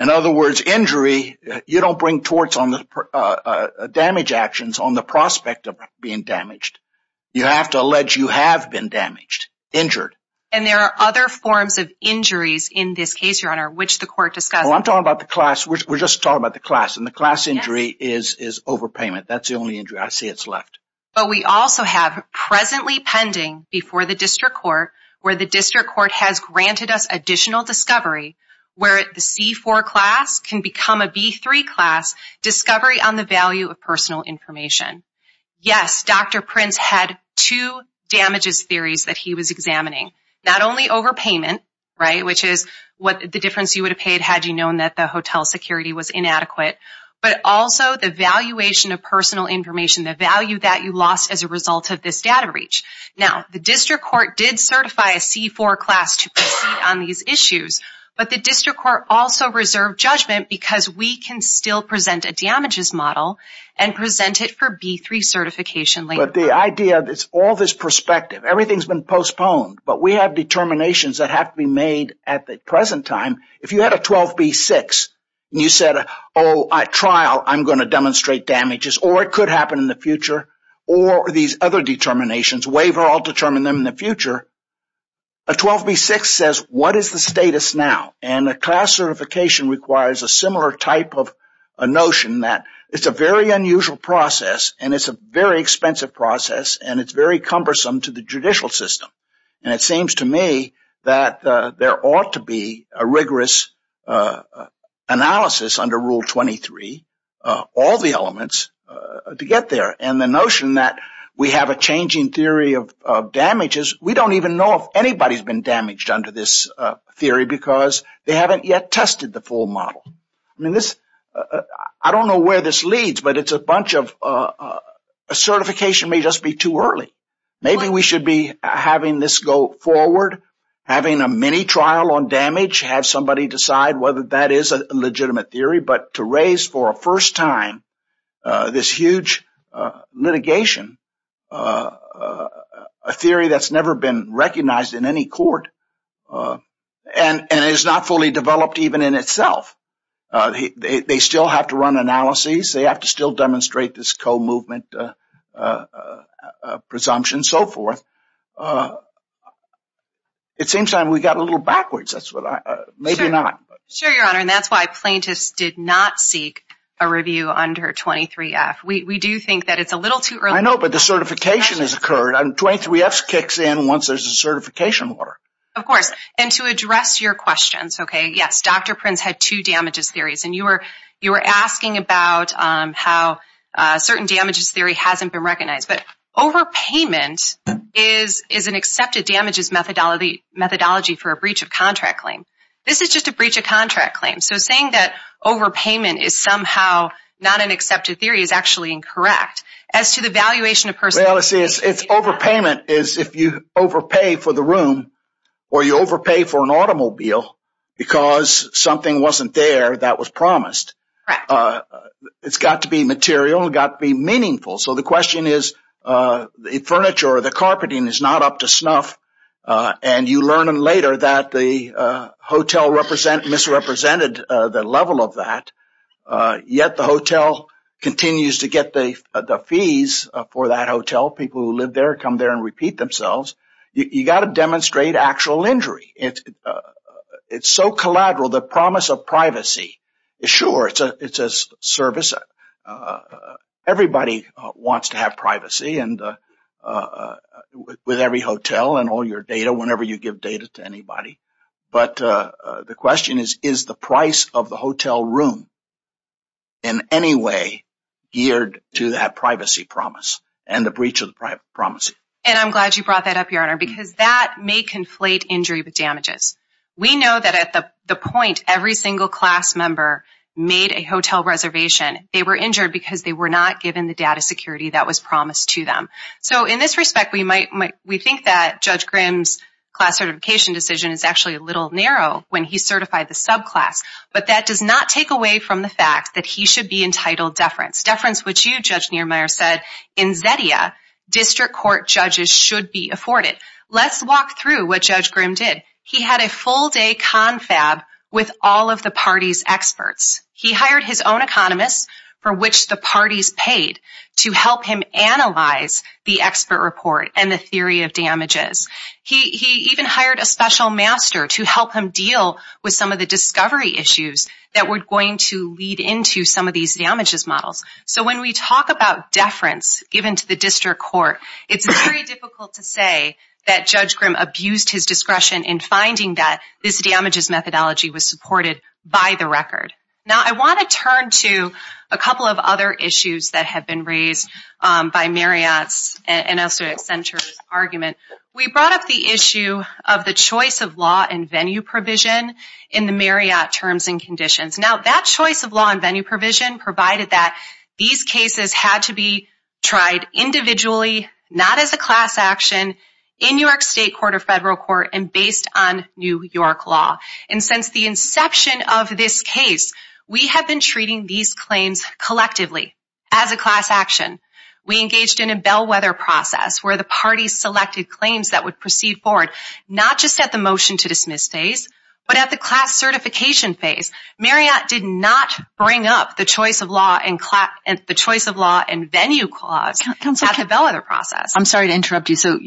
In other words, injury, you don't bring torts on the damage actions on the prospect of being damaged. You have to allege you have been damaged, injured. And there are other forms of injuries in this case, Your Honor, which the court discussed. Well, I'm talking about the class. We're just talking about the class, and the class injury is overpayment. That's the only injury. I say it's left. But we also have presently pending before the district court, where the district court has granted us additional discovery, where the C4 class can become a B3 class, discovery on the value of personal information. Yes, Dr. Prince had two damages theories that he was examining. Not only overpayment, right, which is what the difference you would have paid had you known that the hotel security was inadequate, but also the valuation of personal information, the value that you lost as a result of this data reach. Now, the district court did certify a C4 class on these issues, but the district court also reserved judgment because we can still present a damages model and present it for B3 certification later. But the idea, all this perspective, everything's been postponed, but we have determinations that have to be made at the present time. If you had a 12B6, and you said, oh, at trial, I'm going to demonstrate damages, or it could happen in the future, or these other determinations, waiver, I'll determine them in the future. A 12B6 says, what is the status now? And a class certification requires a similar type of notion that it's a very unusual process, and it's a very expensive process, and it's very cumbersome to the judicial system. And it seems to me that there ought to be a rigorous analysis under Rule 23, all the way to get there. And the notion that we have a changing theory of damages, we don't even know if anybody's been damaged under this theory because they haven't yet tested the full model. I mean, this, I don't know where this leads, but it's a bunch of, a certification may just be too early. Maybe we should be having this go forward, having a mini trial on damage, have somebody decide whether that is a legitimate theory, but to raise, for a first time, this huge litigation, a theory that's never been recognized in any court, and is not fully developed even in itself, they still have to run analyses, they have to still demonstrate this co-movement presumption, and so forth. So, it seems that we got a little backwards, that's what I, maybe not. Sure, Your Honor, and that's why plaintiffs did not seek a review under 23F. We do think that it's a little too early. I know, but the certification has occurred, and 23F kicks in once there's a certification order. Of course, and to address your questions, okay, yes, Dr. Prince had two damages theories, and you were asking about how certain damages theory hasn't been recognized, but overpayment is an accepted damages methodology for a breach of contract claim. This is just a breach of contract claim, so saying that overpayment is somehow not an accepted theory is actually incorrect. As to the valuation of personal property... Well, see, it's overpayment is if you overpay for the room, or you overpay for an automobile, because something wasn't there that was promised. It's got to be material, it's got to be meaningful. So the question is, the furniture or the carpeting is not up to snuff, and you learn later that the hotel misrepresented the level of that, yet the hotel continues to get the fees for that hotel. People who live there come there and repeat themselves. You got to demonstrate actual injury. It's so collateral, the promise of privacy is sure, it's a service. Everybody wants to have privacy, with every hotel and all your data, whenever you give data to anybody, but the question is, is the price of the hotel room in any way geared to that privacy promise, and the breach of the privacy promise? And I'm glad you brought that up, Your Honor, because that may conflate injury with damages. We know that at the point every single class member made a hotel reservation, they were injured because they were not given the data security that was promised to them. So in this respect, we think that Judge Grimm's class certification decision is actually a little narrow when he certified the subclass, but that does not take away from the fact that he should be entitled deference. Deference, which you, Judge Niermeyer, said in Zetia, district court judges should be afforded. Let's walk through what Judge Grimm did. He had a full-day confab with all of the party's experts. He hired his own economist, for which the parties paid, to help him analyze the expert report and the theory of damages. He even hired a special master to help him deal with some of the discovery issues that were going to lead into some of these damages models. So when we talk about deference given to the district court, it's very difficult to say that Judge Grimm abused his discretion in finding that this damages methodology was supported by the record. Now, I want to turn to a couple of other issues that have been raised by Marriott's and Elstowitz-Century argument. We brought up the issue of the choice of law and venue provision in the Marriott terms and conditions. Now, that choice of law and venue provision provided that these cases had to be tried individually, not as a class action, in New York state court or federal court, and based on New York law. And since the inception of this case, we have been treating these claims collectively as a class action. We engaged in a bellwether process where the parties selected claims that would proceed forward, not just at the motion-to-dismiss phase, but at the class certification phase. Marriott did not bring up the choice of law and venue clause. That's a bellwether process. I'm sorry to interrupt you. So,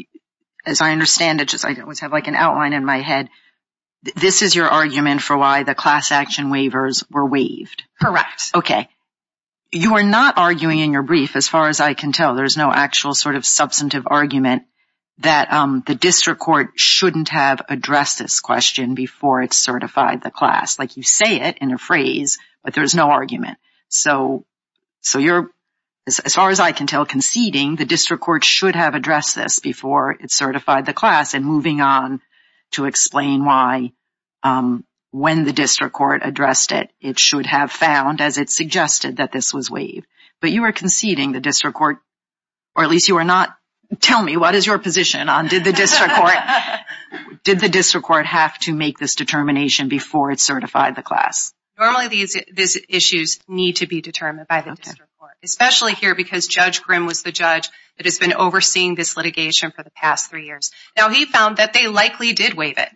as I understand it, I just have like an outline in my head, this is your argument for why the class action waivers were waived. Correct. Okay. You are not arguing in your brief, as far as I can tell, there's no actual sort of substantive argument that the district court shouldn't have addressed this question before it certified the class. Like, you say it in a phrase, but there's no argument. So, you're, as far as I can tell, conceding the district court should have addressed this before it certified the class, and moving on to explain why, when the district court addressed it, it should have found, as it suggested, that this was waived. But you are conceding the district court, or at least you are not, tell me, what is your position on did the district court have to make this determination before it certified the class? Normally, these issues need to be determined by the district court, especially here, because Judge Grimm was the judge that has been overseeing this litigation for the past three years. Now, he found that they likely did waive it,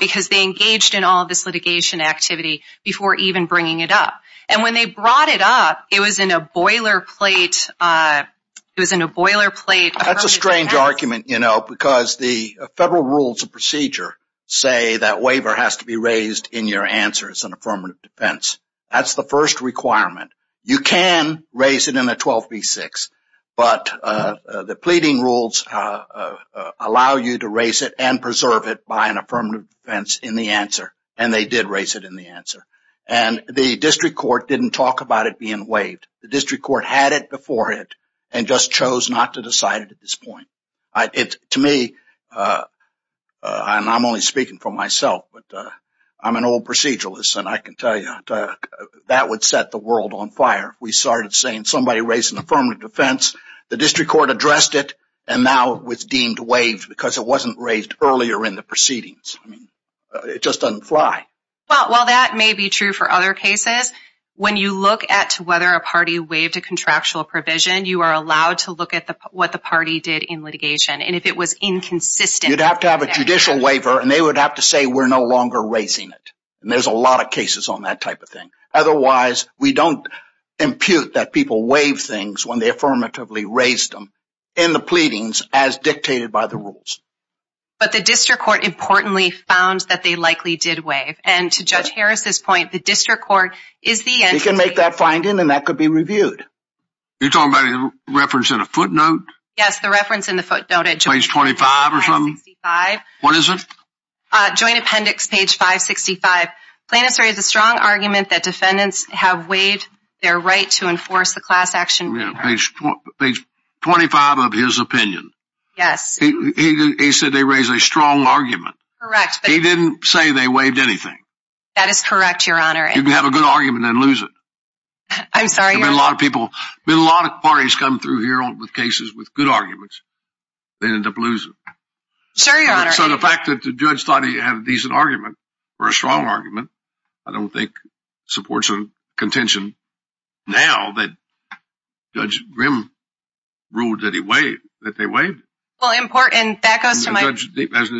because they engaged in all this litigation activity before even bringing it up. And when they brought it up, it was in a boilerplate, it was in a boilerplate. That's a strange argument, you know, because the federal rules of procedure say that waiver has to be raised in your answer as an affirmative defense. That's the first requirement. You can raise it in a 12v6, but the pleading rules allow you to raise it and preserve it by an affirmative defense in the answer, and they did raise it in the answer. And the district court didn't talk about it being waived. The district court had it before it, and just chose not to decide it at this point. To me, and I'm only speaking for myself, but I'm an old proceduralist, and I can tell you that would set the world on fire if we started saying somebody raised an affirmative defense, the district court addressed it, and now it was deemed waived because it wasn't raised earlier in the proceedings. It just doesn't fly. Well, while that may be true for other cases, when you look at whether a party waived a litigation, and if it was inconsistent, you'd have to have a judicial waiver, and they would have to say, we're no longer raising it, and there's a lot of cases on that type of thing. Otherwise, we don't impute that people waive things when they affirmatively raised them in the pleadings as dictated by the rules. But the district court importantly found that they likely did waive, and to Judge Harris's point, the district court is the answer. You can make that finding, and that could be reviewed. You're talking about a reference in a footnote? Yes, the reference in the footnote. Page 25 or something? 565. What is it? Joint Appendix, page 565. Plaintiff's raised a strong argument that defendants have waived their right to enforce the class action. Page 25 of his opinion. Yes. He said they raised a strong argument. Correct. He didn't say they waived anything. That is correct, Your Honor. You can have a good argument and lose it. I'm sorry, Your Honor. A lot of people, a lot of parties come through here with cases with good arguments. They end up losing. Sure, Your Honor. So the fact that the judge thought he had a decent argument, or a strong argument, I don't think supports a contention now that Judge Grimm ruled that he waived, that they waived. Well, important, back up to my... As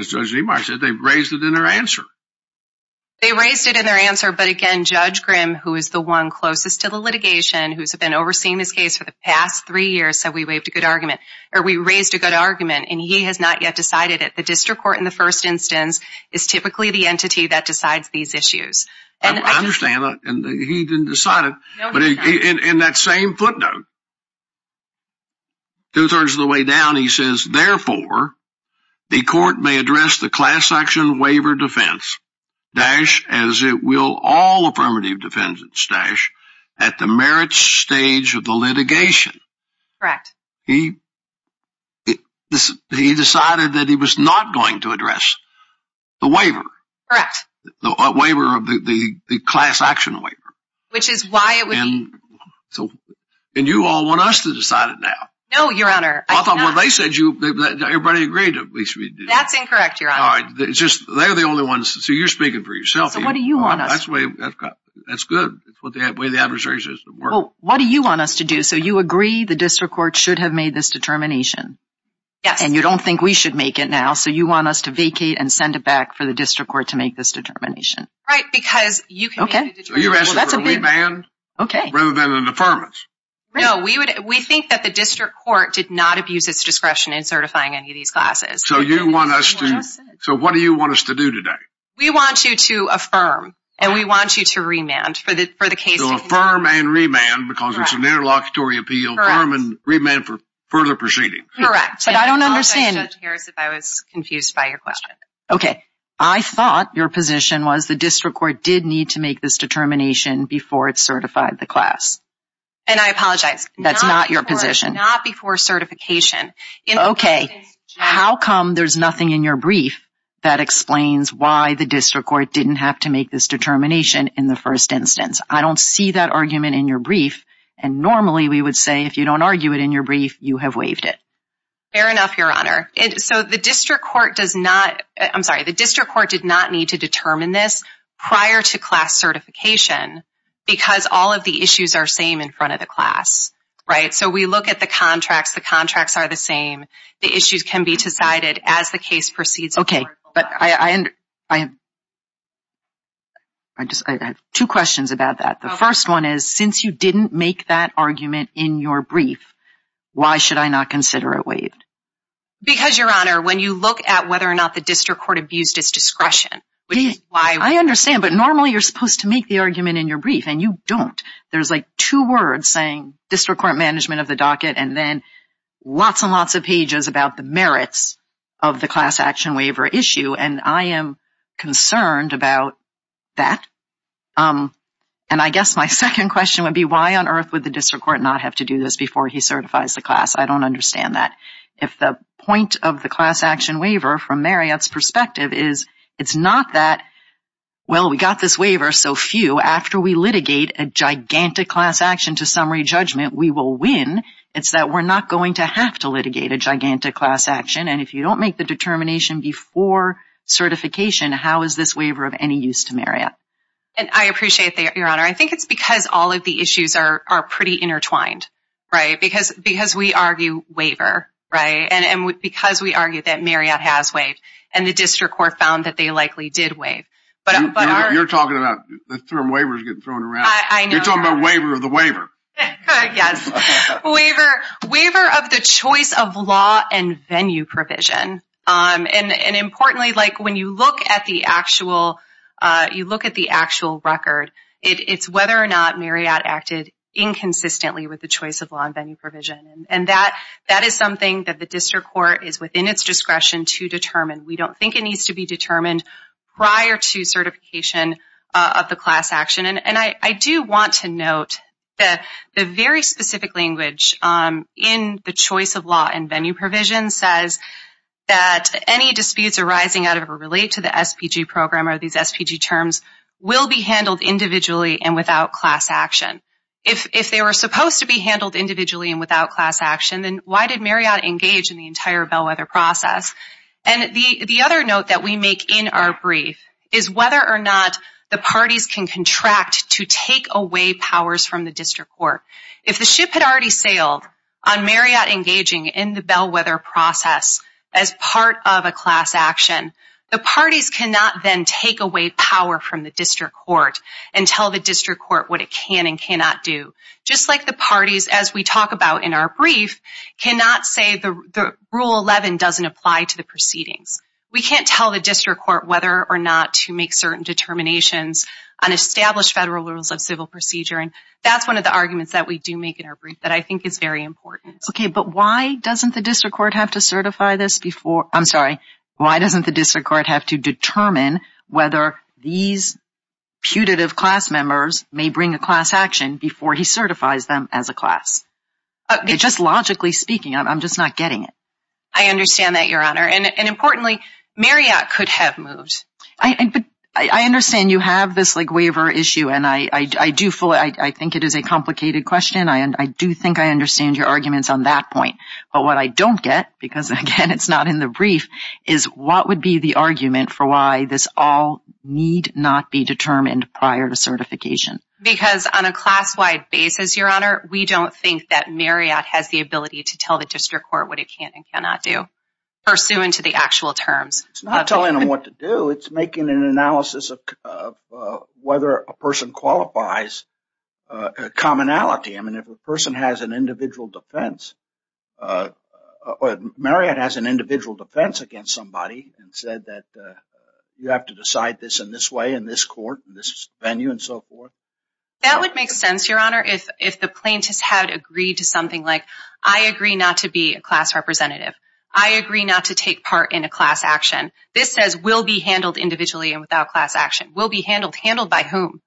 Judge DeMar said, they raised it in their answer. They raised it in their answer, but again, Judge Grimm, who is the one closest to the litigation, who's been overseeing this case for the past three years, said we waived a good argument, or we raised a good argument, and he has not yet decided it. The district court, in the first instance, is typically the entity that decides these issues. I understand that, and he didn't decide it, but in that same footnote, two-thirds of the way down, he says, therefore, the court may address the class action waiver defense, dash, as it will all affirmative defense, dash, at the merits stage of the litigation. Correct. He decided that he was not going to address the waiver. Correct. The waiver, the class action waiver. Which is why it was... And you all want us to decide it now. No, Your Honor. I thought when they said you, everybody agreed at least we did. That's incorrect, Your Honor. All right. They're the only ones... So, you're speaking for yourself. But what do you want us to do? That's good. That's the way the adversary system works. Well, what do you want us to do? So, you agree the district court should have made this determination? Yeah. And you don't think we should make it now, so you want us to vacate and send it back for the district court to make this determination? Right, because you can... Okay. So, you're asking for a revamp? Okay. Rather than the permits? No, we think that the district court did not abuse its discretion in certifying any of these classes. So, you want us to... So, what do you want us to do today? We want you to affirm, and we want you to remand for the case... So, affirm and remand, because it's an interlocutory appeal. Correct. Affirm and remand for further proceedings. Correct. But I don't understand it. I apologize, Judge Harris, if I was confused by your question. Okay. I thought your position was the district court did need to make this determination before it certified the class. And I apologize. That's not your position. Not before certification. Okay. How come there's nothing in your brief that explains why the district court didn't have to make this determination in the first instance? I don't see that argument in your brief. And normally, we would say, if you don't argue it in your brief, you have waived it. Fair enough, Your Honor. So, the district court does not... I'm sorry. The district court did not need to determine this prior to class certification, because all of the issues are same in front of the class. Right? So, we look at the contracts. The contracts are the same. The issues can be decided as the case proceeds. Okay. But I... I... I just... I have two questions about that. Okay. The first one is, since you didn't make that argument in your brief, why should I not consider it waived? Because, Your Honor, when you look at whether or not the district court abused its discretion, which is why... I understand. But normally, you're supposed to make the argument in your brief, and you don't. There's, like, two words saying district court management of the docket, and then lots and lots of pages about the merits of the class action waiver issue, and I am concerned about that. And I guess my second question would be, why on earth would the district court not have to do this before he certifies the class? I don't understand that. If the point of the class action waiver, from Mariette's perspective, is it's not that, well, we got this waiver, so phew. After we litigate a gigantic class action to summary judgment, we will win. It's that we're not going to have to litigate a gigantic class action, and if you don't make the determination before certification, how is this waiver of any use to Mariette? And I appreciate that, Your Honor. I think it's because all of the issues are pretty intertwined, right? Because we argue waiver, right? And because we argue that Mariette has waived, and the district court found that they likely did waive. But our... You're talking about... The term waiver is getting thrown around. I know. You're talking about waiver of the waiver. Yes. Waiver of the choice of law and venue provision. And importantly, like, when you look at the actual record, it's whether or not Mariette acted inconsistently with the choice of law and venue provision. And that is something that the district court is within its discretion to determine. We don't think it needs to be determined prior to certification of the class action. And I do want to note that the very specific language in the choice of law and venue provision says that any disputes arising out of or related to the SPG program or these SPG terms will be handled individually and without class action. If they were supposed to be handled individually and without class action, then why did Mariette engage in the entire bellwether process? And the other note that we make in our brief is whether or not the parties can contract to take away powers from the district court. If the ship had already sailed on Mariette engaging in the bellwether process as part of a class action, the parties cannot then take away power from the district court and tell the district court what it can and cannot do. Just like the parties, as we talk about in our brief, cannot say the Rule 11 doesn't apply to the proceedings. We can't tell the district court whether or not to make certain determinations on established federal rules of civil procedure, and that's one of the arguments that we do make in our brief that I think is very important. Okay, but why doesn't the district court have to certify this before – I'm sorry. Why doesn't the district court have to determine whether these putative class members may bring a class action before he certifies them as a class? Just logically speaking, I'm just not getting it. I understand that, Your Honor. And importantly, Mariette could have moved. I understand you have this waiver issue, and I think it is a complicated question. I do think I understand your arguments on that point. But what I don't get, because again it's not in the brief, is what would be the argument for why this all need not be determined prior to certification? Because on a class-wide basis, Your Honor, we don't think that Mariette has the ability to tell the district court what it can and cannot do pursuant to the actual terms. It's not telling them what to do. It's making an analysis of whether a person qualifies commonality. I mean, if a person has an individual defense – Mariette has an individual defense against somebody and said that you have to decide this in this way in this court, in this venue, and so forth. That would make sense, Your Honor, if the plaintiffs had agreed to something like, I agree not to be a class representative. I agree not to take part in a class action. This says will be handled individually and without class action. Will be handled? Handled by whom?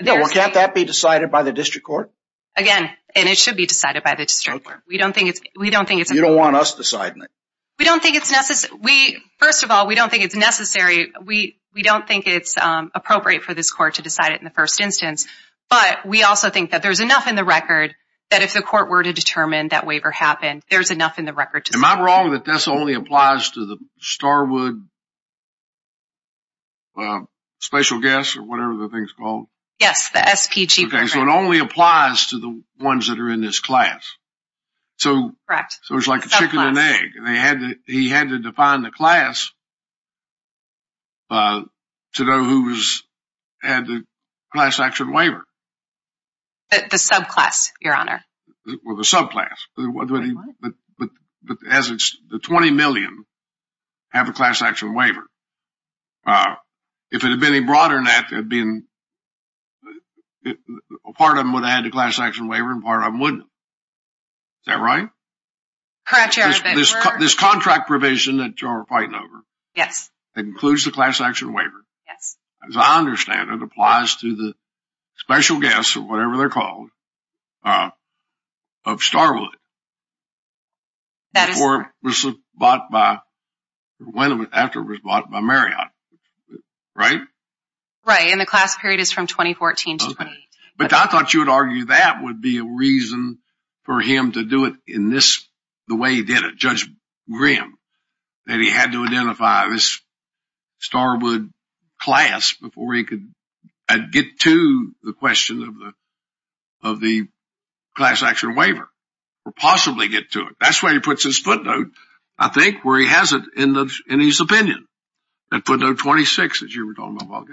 Yeah, well can't that be decided by the district court? Again, and it should be decided by the district court. We don't think it's – You don't want us deciding it. We don't think it's necessary. First of all, we don't think it's necessary. We don't think it's appropriate for this court to decide it in the first instance. But we also think that there's enough in the record that if the court were to determine that waiver happened, there's enough in the record to – Am I wrong that this only applies to the Starwood Special Guests or whatever the thing's called? Yes, the SPG. Okay, so it only applies to the ones that are in this class. Correct. So it's like a chicken and egg. He had to define the class to know who's had the class action waiver. The subclass, Your Honor. Well, the subclass. But the 20 million have a class action waiver. If it had been any broader than that, it would have been – Part of them would have had the class action waiver and part of them wouldn't. Is that right? Correct, Your Honor. This contract provision that you're fighting over. Yes. That includes the class action waiver. Yes. As I understand it, it applies to the Special Guests or whatever they're called of Starwood. That is correct. Before it was bought by – After it was bought by Marriott. Right? Right. And the class period is from 2014 to 2018. But I thought you would argue that would be a reason for him to do it in this – The way he did it, Judge Graham. That he had to identify this Starwood class before he could get to the question of the class action waiver. Or possibly get to it. That's where he puts his footnote, I think, where he has it in his opinion. That footnote 26, as you were talking about.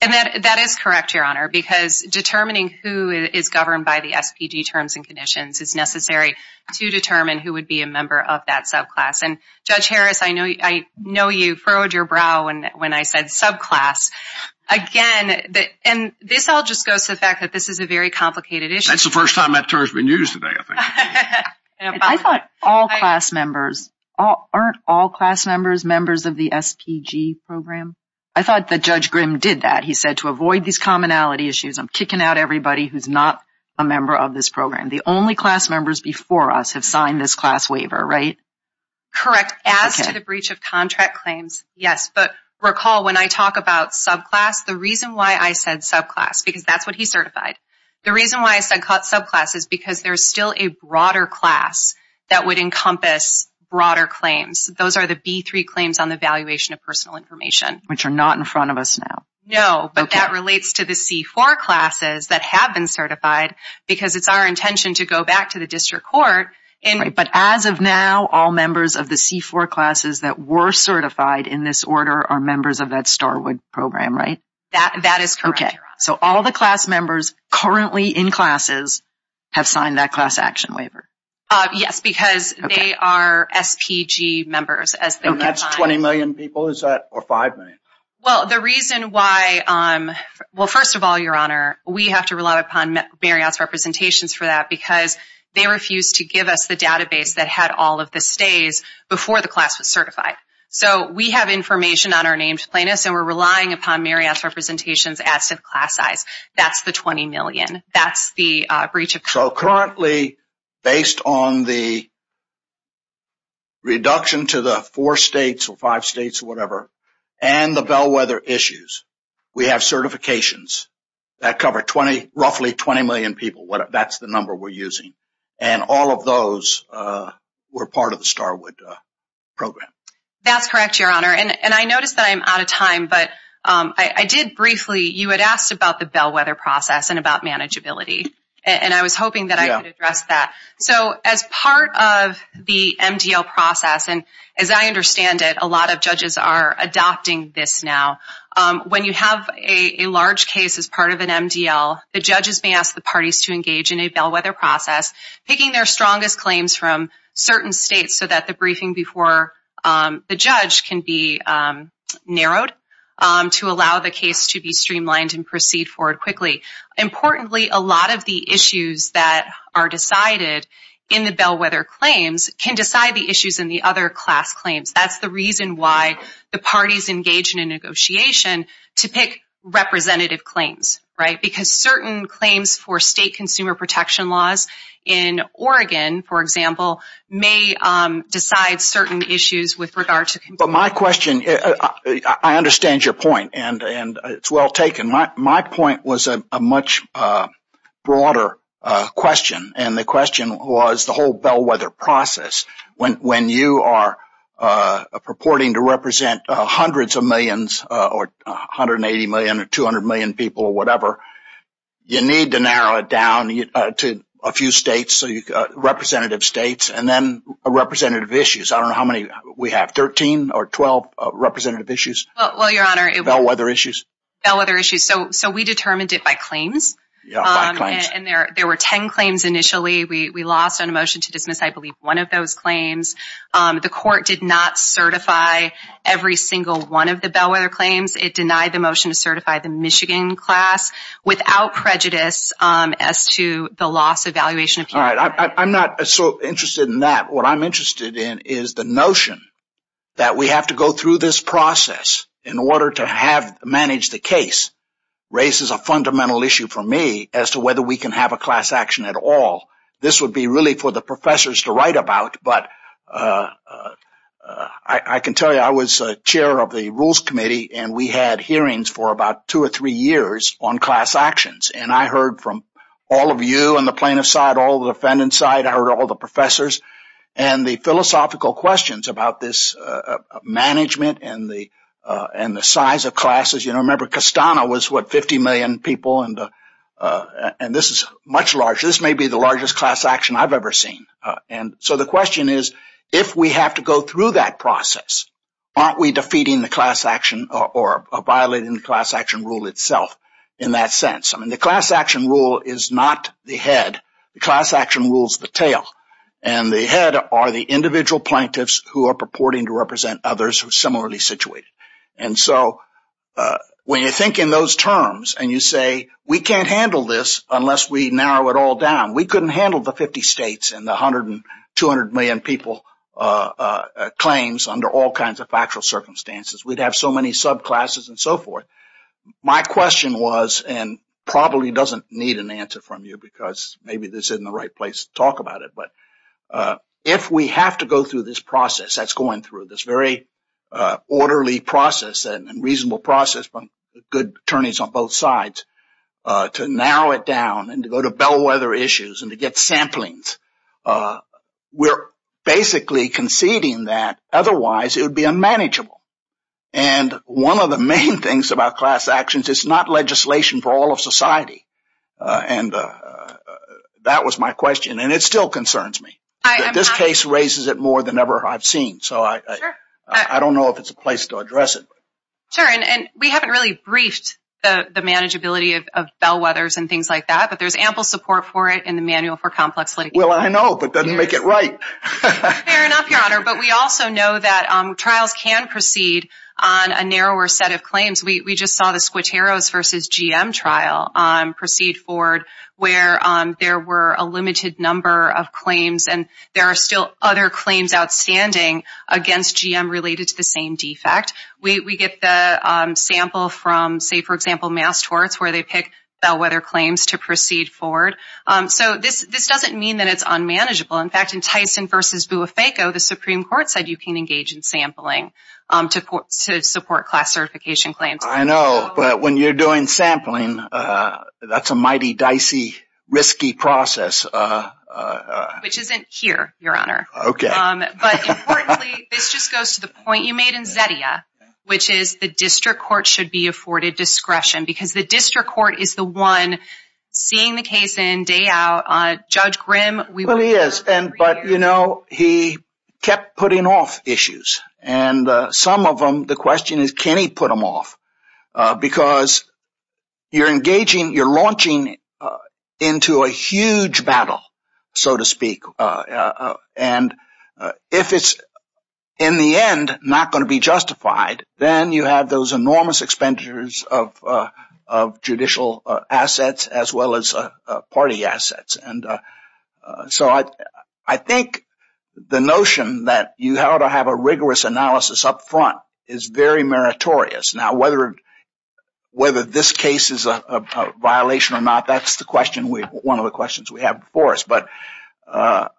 And that is correct, Your Honor, because determining who is governed by the SPG terms and conditions is necessary to determine who would be a member of that subclass. And Judge Harris, I know you frowned your brow when I said subclass. Again, and this all just goes to the fact that this is a very complicated issue. That's the first time that term has been used today, I think. I thought all class members – Aren't all class members members of the SPG program? I thought that Judge Graham did that. He said, to avoid these commonality issues, I'm kicking out everybody who's not a member of this program. The only class members before us have signed this class waiver, right? Correct. After the breach of contract claims, yes. But recall, when I talk about subclass, the reason why I said subclass – Because that's what he certified. The reason why I said subclass is because there's still a broader class that would encompass broader claims. Those are the B3 claims on the valuation of personal information. Which are not in front of us now. No, but that relates to the C4 classes that have been certified because it's our intention to go back to the district court. But as of now, all members of the C4 classes that were certified in this order are members of that Starwood program, right? That is correct. So all the class members currently in classes have signed that class action waiver. Yes, because they are SPG members. And that's 20 million people, is that? Or 5 million? Well, the reason why – well, first of all, Your Honor, we have to rely upon Marriott's representations for that because they refused to give us the database that had all of the stays before the class was certified. So we have information on our named plaintiffs and we're relying upon Marriott's representations as subclass size. That's the 20 million. That's the breach of contract. So currently, based on the reduction to the 4 states or 5 states or whatever and the bellwether issues, we have certifications that cover roughly 20 million people. That's the number we're using. And all of those were part of the Starwood program. That's correct, Your Honor. And I notice that I'm out of time, but I did briefly – you had asked about the bellwether process and about manageability. And I was hoping that I could address that. So as part of the MDL process – and as I understand it, a lot of judges are adopting this now – when you have a large case as part of an MDL, the judges may ask the parties to engage in a bellwether process, picking their strongest claims from certain states so that the briefing before the judge can be narrowed to allow the case to be streamlined and proceed forward quickly. Importantly, a lot of the issues that are decided in the bellwether claims can decide the issues in the other class claims. That's the reason why the parties engage in a negotiation to pick representative claims, right? Because certain claims for state consumer protection laws in Oregon, for example, may decide certain issues with regard to – But my question – I understand your point, and it's well taken. My point was a much broader question, and the question was the whole bellwether process. When you are purporting to represent hundreds of millions, or 180 million or 200 million people or whatever, you need to narrow it down to a few states, representative states, and then representative issues. I don't know how many we have – 13 or 12 representative issues? Well, Your Honor – Bellwether issues. Bellwether issues. So we determined it by claims. Yeah, by claims. And there were 10 claims initially. We lost on a motion to dismiss, I believe, one of those claims. The court did not certify every single one of the bellwether claims. It denied the motion to certify the Michigan class without prejudice as to the loss of valuation. I'm not so interested in that. What I'm interested in is the notion that we have to go through this process in order to manage the case raises a fundamental issue for me as to whether we can have a class action at all. This would be really for the professors to write about, but I can tell you I was chair of the Rules Committee, and we had hearings for about two or three years on class actions. And I heard from all of you on the plaintiff's side, I heard all the defendant's side, I heard all the professors, and the philosophical questions about this management and the size of classes. You know, remember, Costano was, what, 50 million people, and this is much larger. This may be the largest class action I've ever seen. And so the question is, if we have to go through that process, aren't we defeating the class action or violating the class action rule itself in that sense? I mean, the class action rule is not the head. The class action rule is the tail. And the head are the individual plaintiffs who are purporting to represent others who are similarly situated. And so when you think in those terms and you say, we can't handle this unless we narrow it all down. We couldn't handle the 50 states and the 100 and 200 million people claims under all kinds of factual circumstances. We'd have so many subclasses and so forth. My question was, and probably doesn't need an answer from you because maybe this isn't the right place to talk about it, but if we have to go through this process that's going through, this very orderly process and reasonable process from good attorneys on both sides, to narrow it down and to go to bellwether issues and to get samplings, we're basically conceding that otherwise it would be unmanageable. And one of the main things about class actions, it's not legislation for all of society. And that was my question. And it still concerns me. This case raises it more than ever I've seen. So I don't know if it's a place to address it. Sure. And we haven't really briefed the manageability of bellwethers and things like that, but there's ample support for it in the manual for complex litigation. Well, I know, but doesn't make it right. Fair enough, Connor. But we also know that trials can proceed on a narrower set of claims. We just saw the Squiteros v. GM trial proceed forward where there were a limited number of claims and there are still other claims outstanding against GM related to the same defect. We get the sample from, say, for example, Mass Torts where they picked bellwether claims to proceed forward. So this doesn't mean that it's unmanageable. In fact, in Tyson v. Buifeco, the Supreme Court said you can engage in sampling to support class certification claims. I know, but when you're doing sampling, that's a mighty dicey, risky process. Which isn't here, Your Honor. Okay. But importantly, this just goes to the point you made in Zettia, which is the district court should be afforded discretion, because the district court is the one seeing the case in, day out. Judge Graham... Well, he is. But, you know, he kept putting off issues. And some of them, the question is can he put them off? Because you're engaging, you're launching into a huge battle, so to speak. And if it's, in the end, not going to be justified, then you have those enormous expenditures of judicial assets as well as party assets. And so I think the notion that you ought to have a rigorous analysis up front is very meritorious. Now, whether this case is a violation or not, that's one of the questions we have before us. But I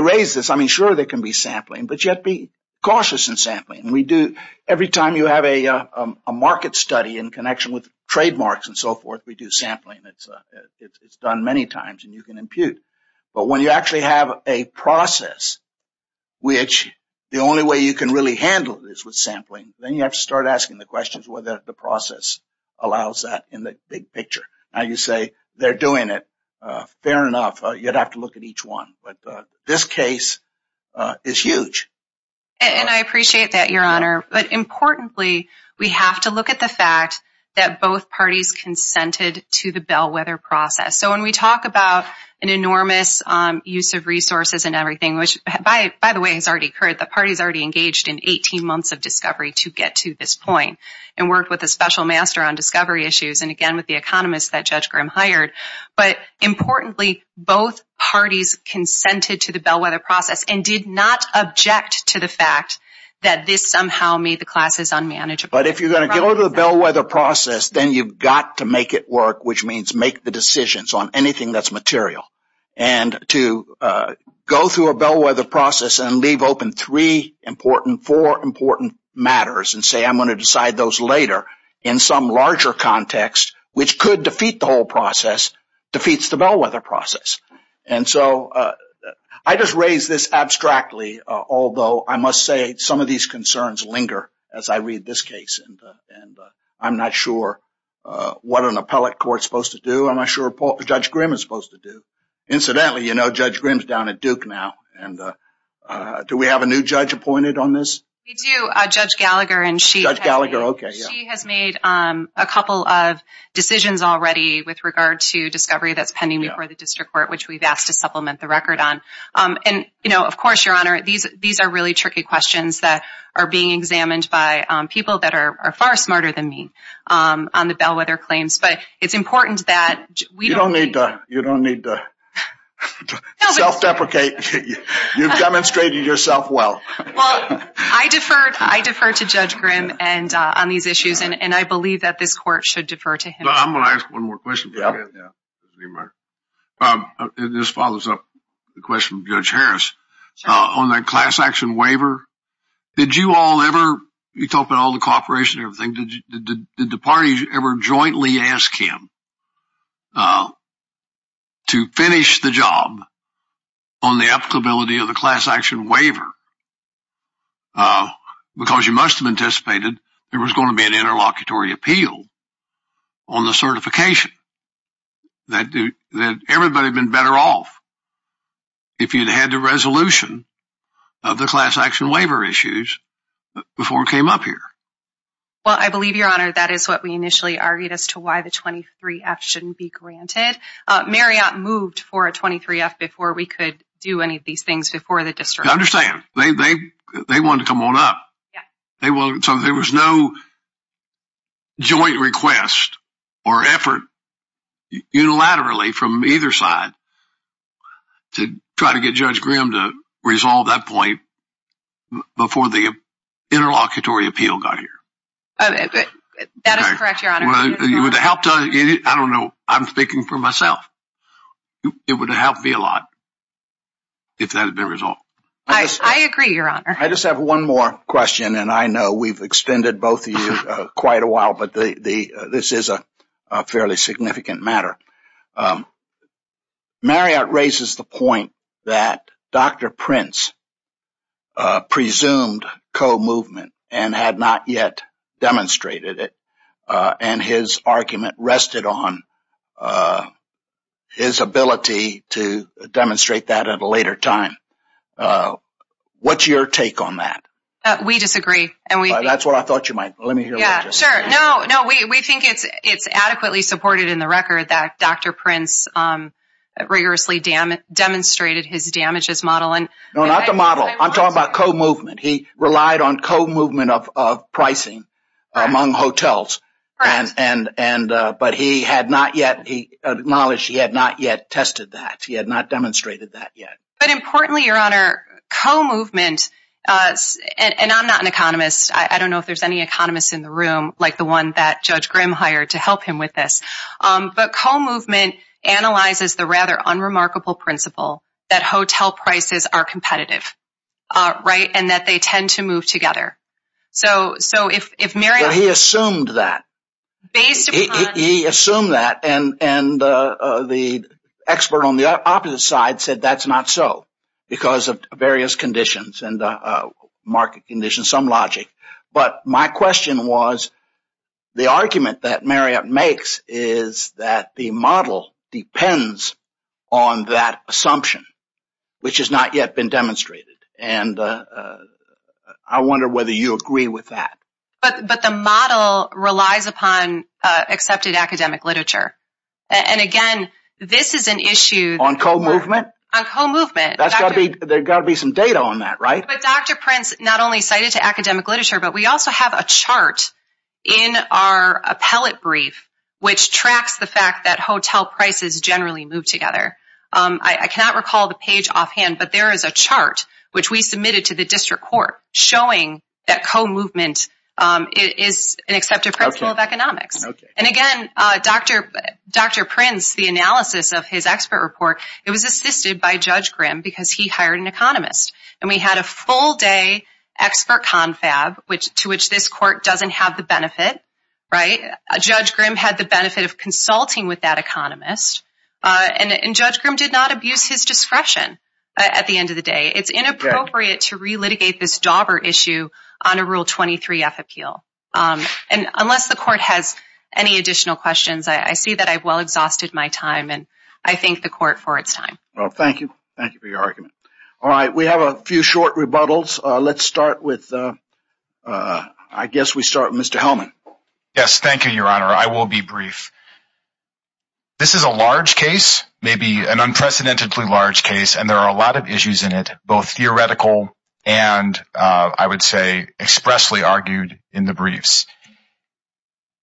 raise this. I mean, sure, there can be sampling, but you have to be cautious in sampling. Every time you have a market study in connection with trademarks and so forth, we do sampling. It's done many times, and you can impute. But when you actually have a process, which the only way you can really handle this with sampling, then you have to start asking the questions whether the process allows that in the big picture. Now, you say they're doing it. Fair enough. You'd have to look at each one. But this case is huge. And I appreciate that, Your Honor. But importantly, we have to look at the fact that both parties consented to the bellwether process. So when we talk about an enormous use of resources and everything, which, by the way, has already occurred. The parties already engaged in 18 months of discovery to get to this point and worked with a special master on discovery issues and, again, with the economist that Judge Grimm hired. But importantly, both parties consented to the bellwether process and did not object to the fact that this somehow made the classes unmanageable. But if you're going to go to the bellwether process, then you've got to make it work, which means make the decisions on anything that's material. And to go through a bellwether process and leave open three important, four important matters and say, I'm going to decide those later in some larger context, which could defeat the whole process, defeats the bellwether process. And so I just raise this abstractly, although I must say some of these concerns linger as I read this case. And I'm not sure what an appellate court is supposed to do. I'm not sure what Judge Grimm is supposed to do. Incidentally, you know Judge Grimm's down at Duke now. And do we have a new judge appointed on this? We do, Judge Gallagher. Judge Gallagher, OK. She has made a couple of decisions already with regard to discovery that's pending before the district court, which we've asked to supplement the record on. And of course, Your Honor, these are really tricky questions that are being examined by people that are far smarter than me on the bellwether claims. But it's important that we don't need to. You don't need to self-deprecate. You've demonstrated yourself well. Well, I defer to Judge Grimm on these issues. And I believe that this court should defer to him. I'm going to ask one more question. This follows up the question of Judge Harris. On that class action waiver, did you all ever, you talk about all the cooperation and everything, did the parties ever jointly ask him to finish the job on the applicability of the class action waiver? Because you must have anticipated there was going to be an interlocutory appeal on the certification, that everybody had been better off. If you'd had the resolution of the class action waiver issues before we came up here. Well, I believe, Your Honor, that is what we initially argued as to why the 23F shouldn't be granted. Marriott moved for a 23F before we could do any of these things before the district. I understand. They wanted to come on up. So there was no joint request or effort unilaterally from either side to try to get Judge Graham to resolve that point before the interlocutory appeal got here. That is correct, Your Honor. I don't know. I'm speaking for myself. It would have helped me a lot if that had been resolved. I agree, Your Honor. I just have one more question, and I know we've extended both of you quite a while, but this is a fairly significant matter. Marriott raises the point that Dr. Prince presumed co-movement and had not yet demonstrated it, and his argument rested on his ability to demonstrate that at a later time. What's your take on that? We disagree. That's what I thought you might. Let me hear what you say. Sure. No, we think it's adequately supported in the record that Dr. Prince rigorously demonstrated his damages model. No, not the model. I'm talking about co-movement. He relied on co-movement of pricing among hotels, but he acknowledged he had not yet tested that. He had not demonstrated that yet. But importantly, Your Honor, co-movement, and I'm not an economist. I don't know if there's any economist in the room like the one that Judge Grimm hired to help him with this, but co-movement analyzes the rather unremarkable principle that hotel prices are competitive, right, and that they tend to move together. So if Marriott- He assumed that. He assumed that, and the expert on the opposite side said that's not so because of various conditions and market conditions, some logic. But my question was the argument that Marriott makes is that the model depends on that assumption, which has not yet been demonstrated. And I wonder whether you agree with that. But the model relies upon accepted academic literature. And again, this is an issue- On co-movement? On co-movement. There's got to be some data on that, right? But Dr. Prince not only cited academic literature, but we also have a chart in our appellate brief which tracks the fact that hotel prices generally move together. I cannot recall the page offhand, but there is a chart which we submitted to the district court showing that co-movement is an accepted principle of economics. And again, Dr. Prince, the analysis of his expert report, it was assisted by Judge Grimm because he hired an economist. And we had a full-day expert confab to which this court doesn't have the benefit. Judge Grimm had the benefit of consulting with that economist. And Judge Grimm did not abuse his discretion at the end of the day. It's inappropriate to relitigate this dauber issue on a Rule 23-F appeal. And unless the court has any additional questions, I see that I've well exhausted my time, and I thank the court for its time. Well, thank you. Thank you for your argument. All right, we have a few short rebuttals. Let's start with... I guess we start with Mr. Hellman. Yes, thank you, Your Honor. I will be brief. This is a large case, maybe an unprecedentedly large case, and there are a lot of issues in it, both theoretical and, I would say, expressly argued in the briefs.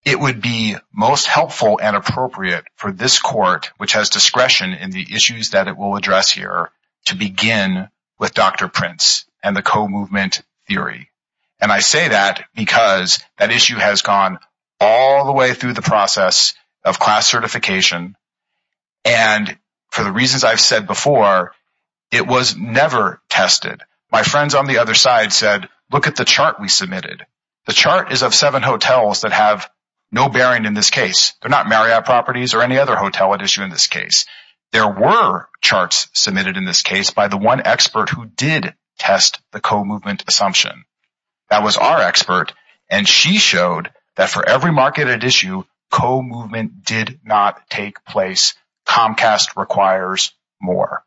It would be most helpful and appropriate for this court, which has discretion in the issues that it will address here, to begin with Dr. Prince and the co-movement theory. And I say that because that issue has gone all the way through the process of class certification, and for the reasons I've said before, it was never tested. My friends on the other side said, look at the chart we submitted. The chart is of seven hotels that have no bearing in this case. They're not Marriott Properties or any other hotel at issue in this case. There were charts submitted in this case by the one expert who did test the co-movement assumption. That was our expert, and she showed that for every market at issue, co-movement did not take place. Comcast requires more.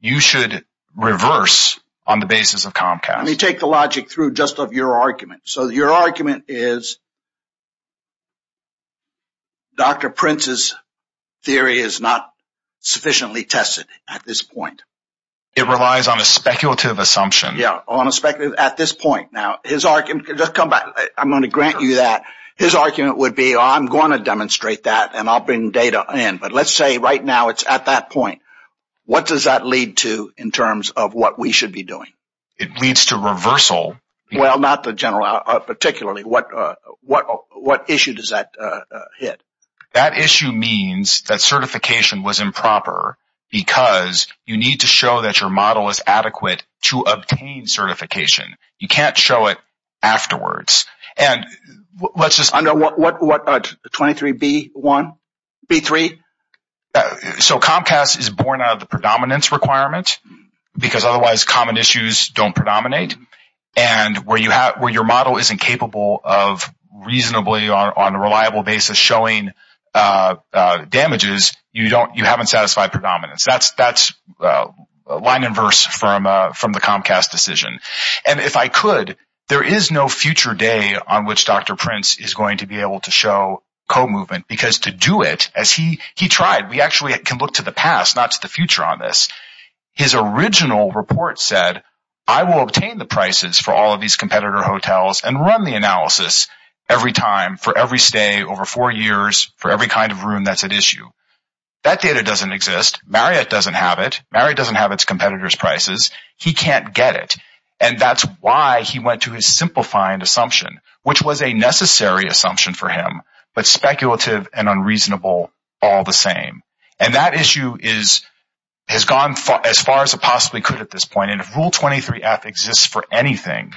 You should reverse on the basis of Comcast. Let me take the logic through just of your argument. Your argument is Dr. Prince's theory is not sufficiently tested at this point. It relies on a speculative assumption. Yeah, on a speculative assumption at this point. I'm going to grant you that. His argument would be, I'm going to demonstrate that, and I'll bring data in. But let's say right now it's at that point. What does that lead to in terms of what we should be doing? It leads to reversal. Well, not the general, particularly. What issue does that hit? That issue means that certification was improper because you need to show that your model is adequate to obtain certification. You can't show it afterwards. 23B1? B3? Comcast is born out of the predominance requirement because otherwise common issues don't predominate. And where your model isn't capable of reasonably, on a reliable basis, showing damages, you haven't satisfied predominance. That's line and verse from the Comcast decision. And if I could, there is no future day on which Dr. Prince is going to be able to show co-movement because to do it, as he tried, we actually can look to the past, not to the future on this. His original report said, I will obtain the prices for all of these competitor hotels and run the analysis every time for every stay over four years for every kind of room that's at issue. That data doesn't exist. Marriott doesn't have it. Marriott doesn't have its competitors' prices. He can't get it. And that's why he went to his simplifying assumption, which was a necessary assumption for him, but speculative and unreasonable all the same. And that issue has gone as far as it possibly could at this point. And if Rule 23F exists for anything,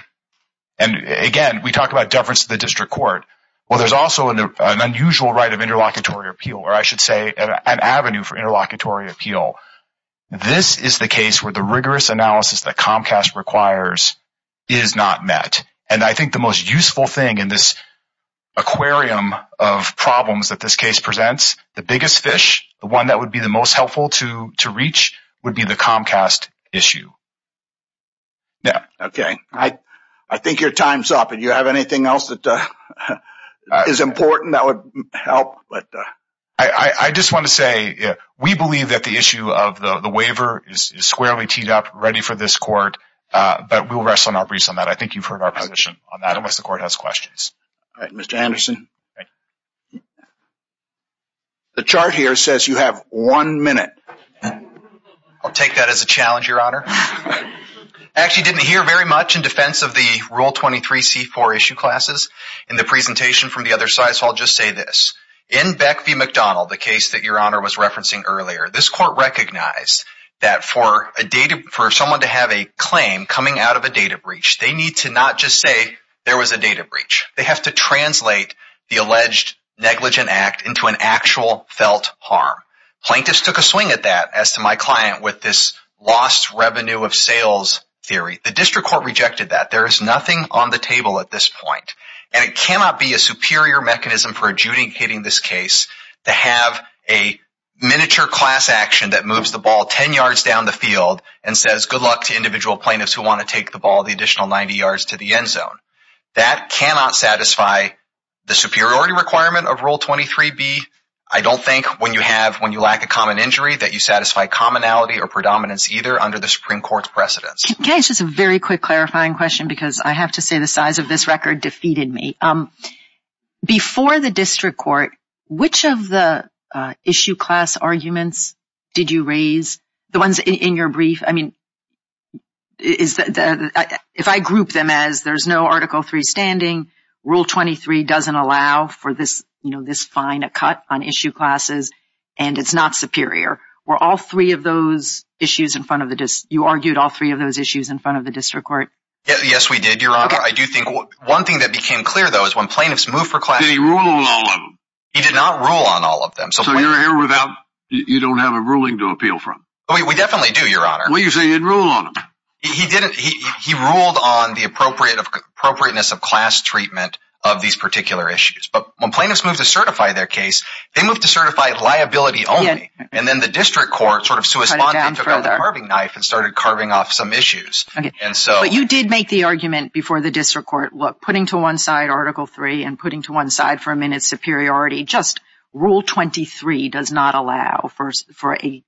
and again, we talked about deference to the district court, well, there's also an unusual right of interlocutory appeal, or I should say an avenue for interlocutory appeal. This is the case where the rigorous analysis that Comcast requires is not met. And I think the most useful thing in this aquarium of problems that this case presents, the biggest fish, the one that would be the most helpful to reach, would be the Comcast issue. Yeah. Okay. I think your time's up. Do you have anything else that is important that would help? I just want to say, we believe that the issue of the waiver is squarely teed up, ready for this court, but we'll rest on our breast on that. I think you've heard our position on that, unless the court has questions. All right. Mr. Anderson. The chart here says you have one minute. I'll take that as a challenge, Your Honor. I actually didn't hear very much in defense of the Rule 23 C4 issue classes in the presentation from the other side, so I'll just say this. In Beck v. McDonald, the case that Your Honor was referencing earlier, this court recognized that for someone to have a claim coming out of a data breach, they need to not just say there was a data breach. They have to translate that claim from the alleged negligent act into an actual felt harm. Plaintiffs took a swing at that, as to my client, with this lost revenue of sales theory. The district court rejected that. There is nothing on the table at this point, and it cannot be a superior mechanism for adjudicating this case to have a miniature class action that moves the ball 10 yards down the field and says, good luck to individual plaintiffs who want to take the ball the additional 90 yards to the end zone. That cannot satisfy the superiority requirement of Rule 23 B. I don't think, when you lack a common injury, that you satisfy commonality or predominance, either, under the Supreme Court's precedence. Can I ask just a very quick clarifying question, because I have to say the size of this record defeated me. Before the district court, which of the issue class arguments did you raise? The ones in your brief? I mean, if I group them as there's no Article III standing, Rule 23 doesn't allow for this fine, a cut on issue classes, and it's not superior. Were all three of those issues in front of the district? You argued all three of those issues in front of the district court? Yes, we did, Your Honor. I do think, one thing that became clear, though, is when plaintiffs moved for class action, he ruled on them. He did not rule on all of them. So you're here without, you don't have a ruling to appeal from? We definitely do, Your Honor. What do you mean, you didn't rule on them? He ruled on the appropriate appropriateness of class treatment of these particular issues. But when plaintiffs moved to certify their case, they moved to certify liability only. And then the district court sort of saw it as a carving knife and started carving off some issues. But you did make the argument before the district court, putting to one side Article III and putting to one side for a minute, superiority. Just Rule 23 does not allow for a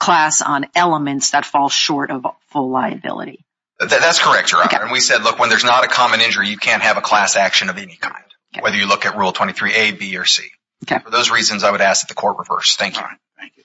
class on elements that fall short of full liability. That's correct, Your Honor. And we said, look, when there's not a common injury, you can't have a class action of any kind, whether you look at Rule 23a, b, or c. For those reasons, I would ask that the court reverse. Thank you. Thank you.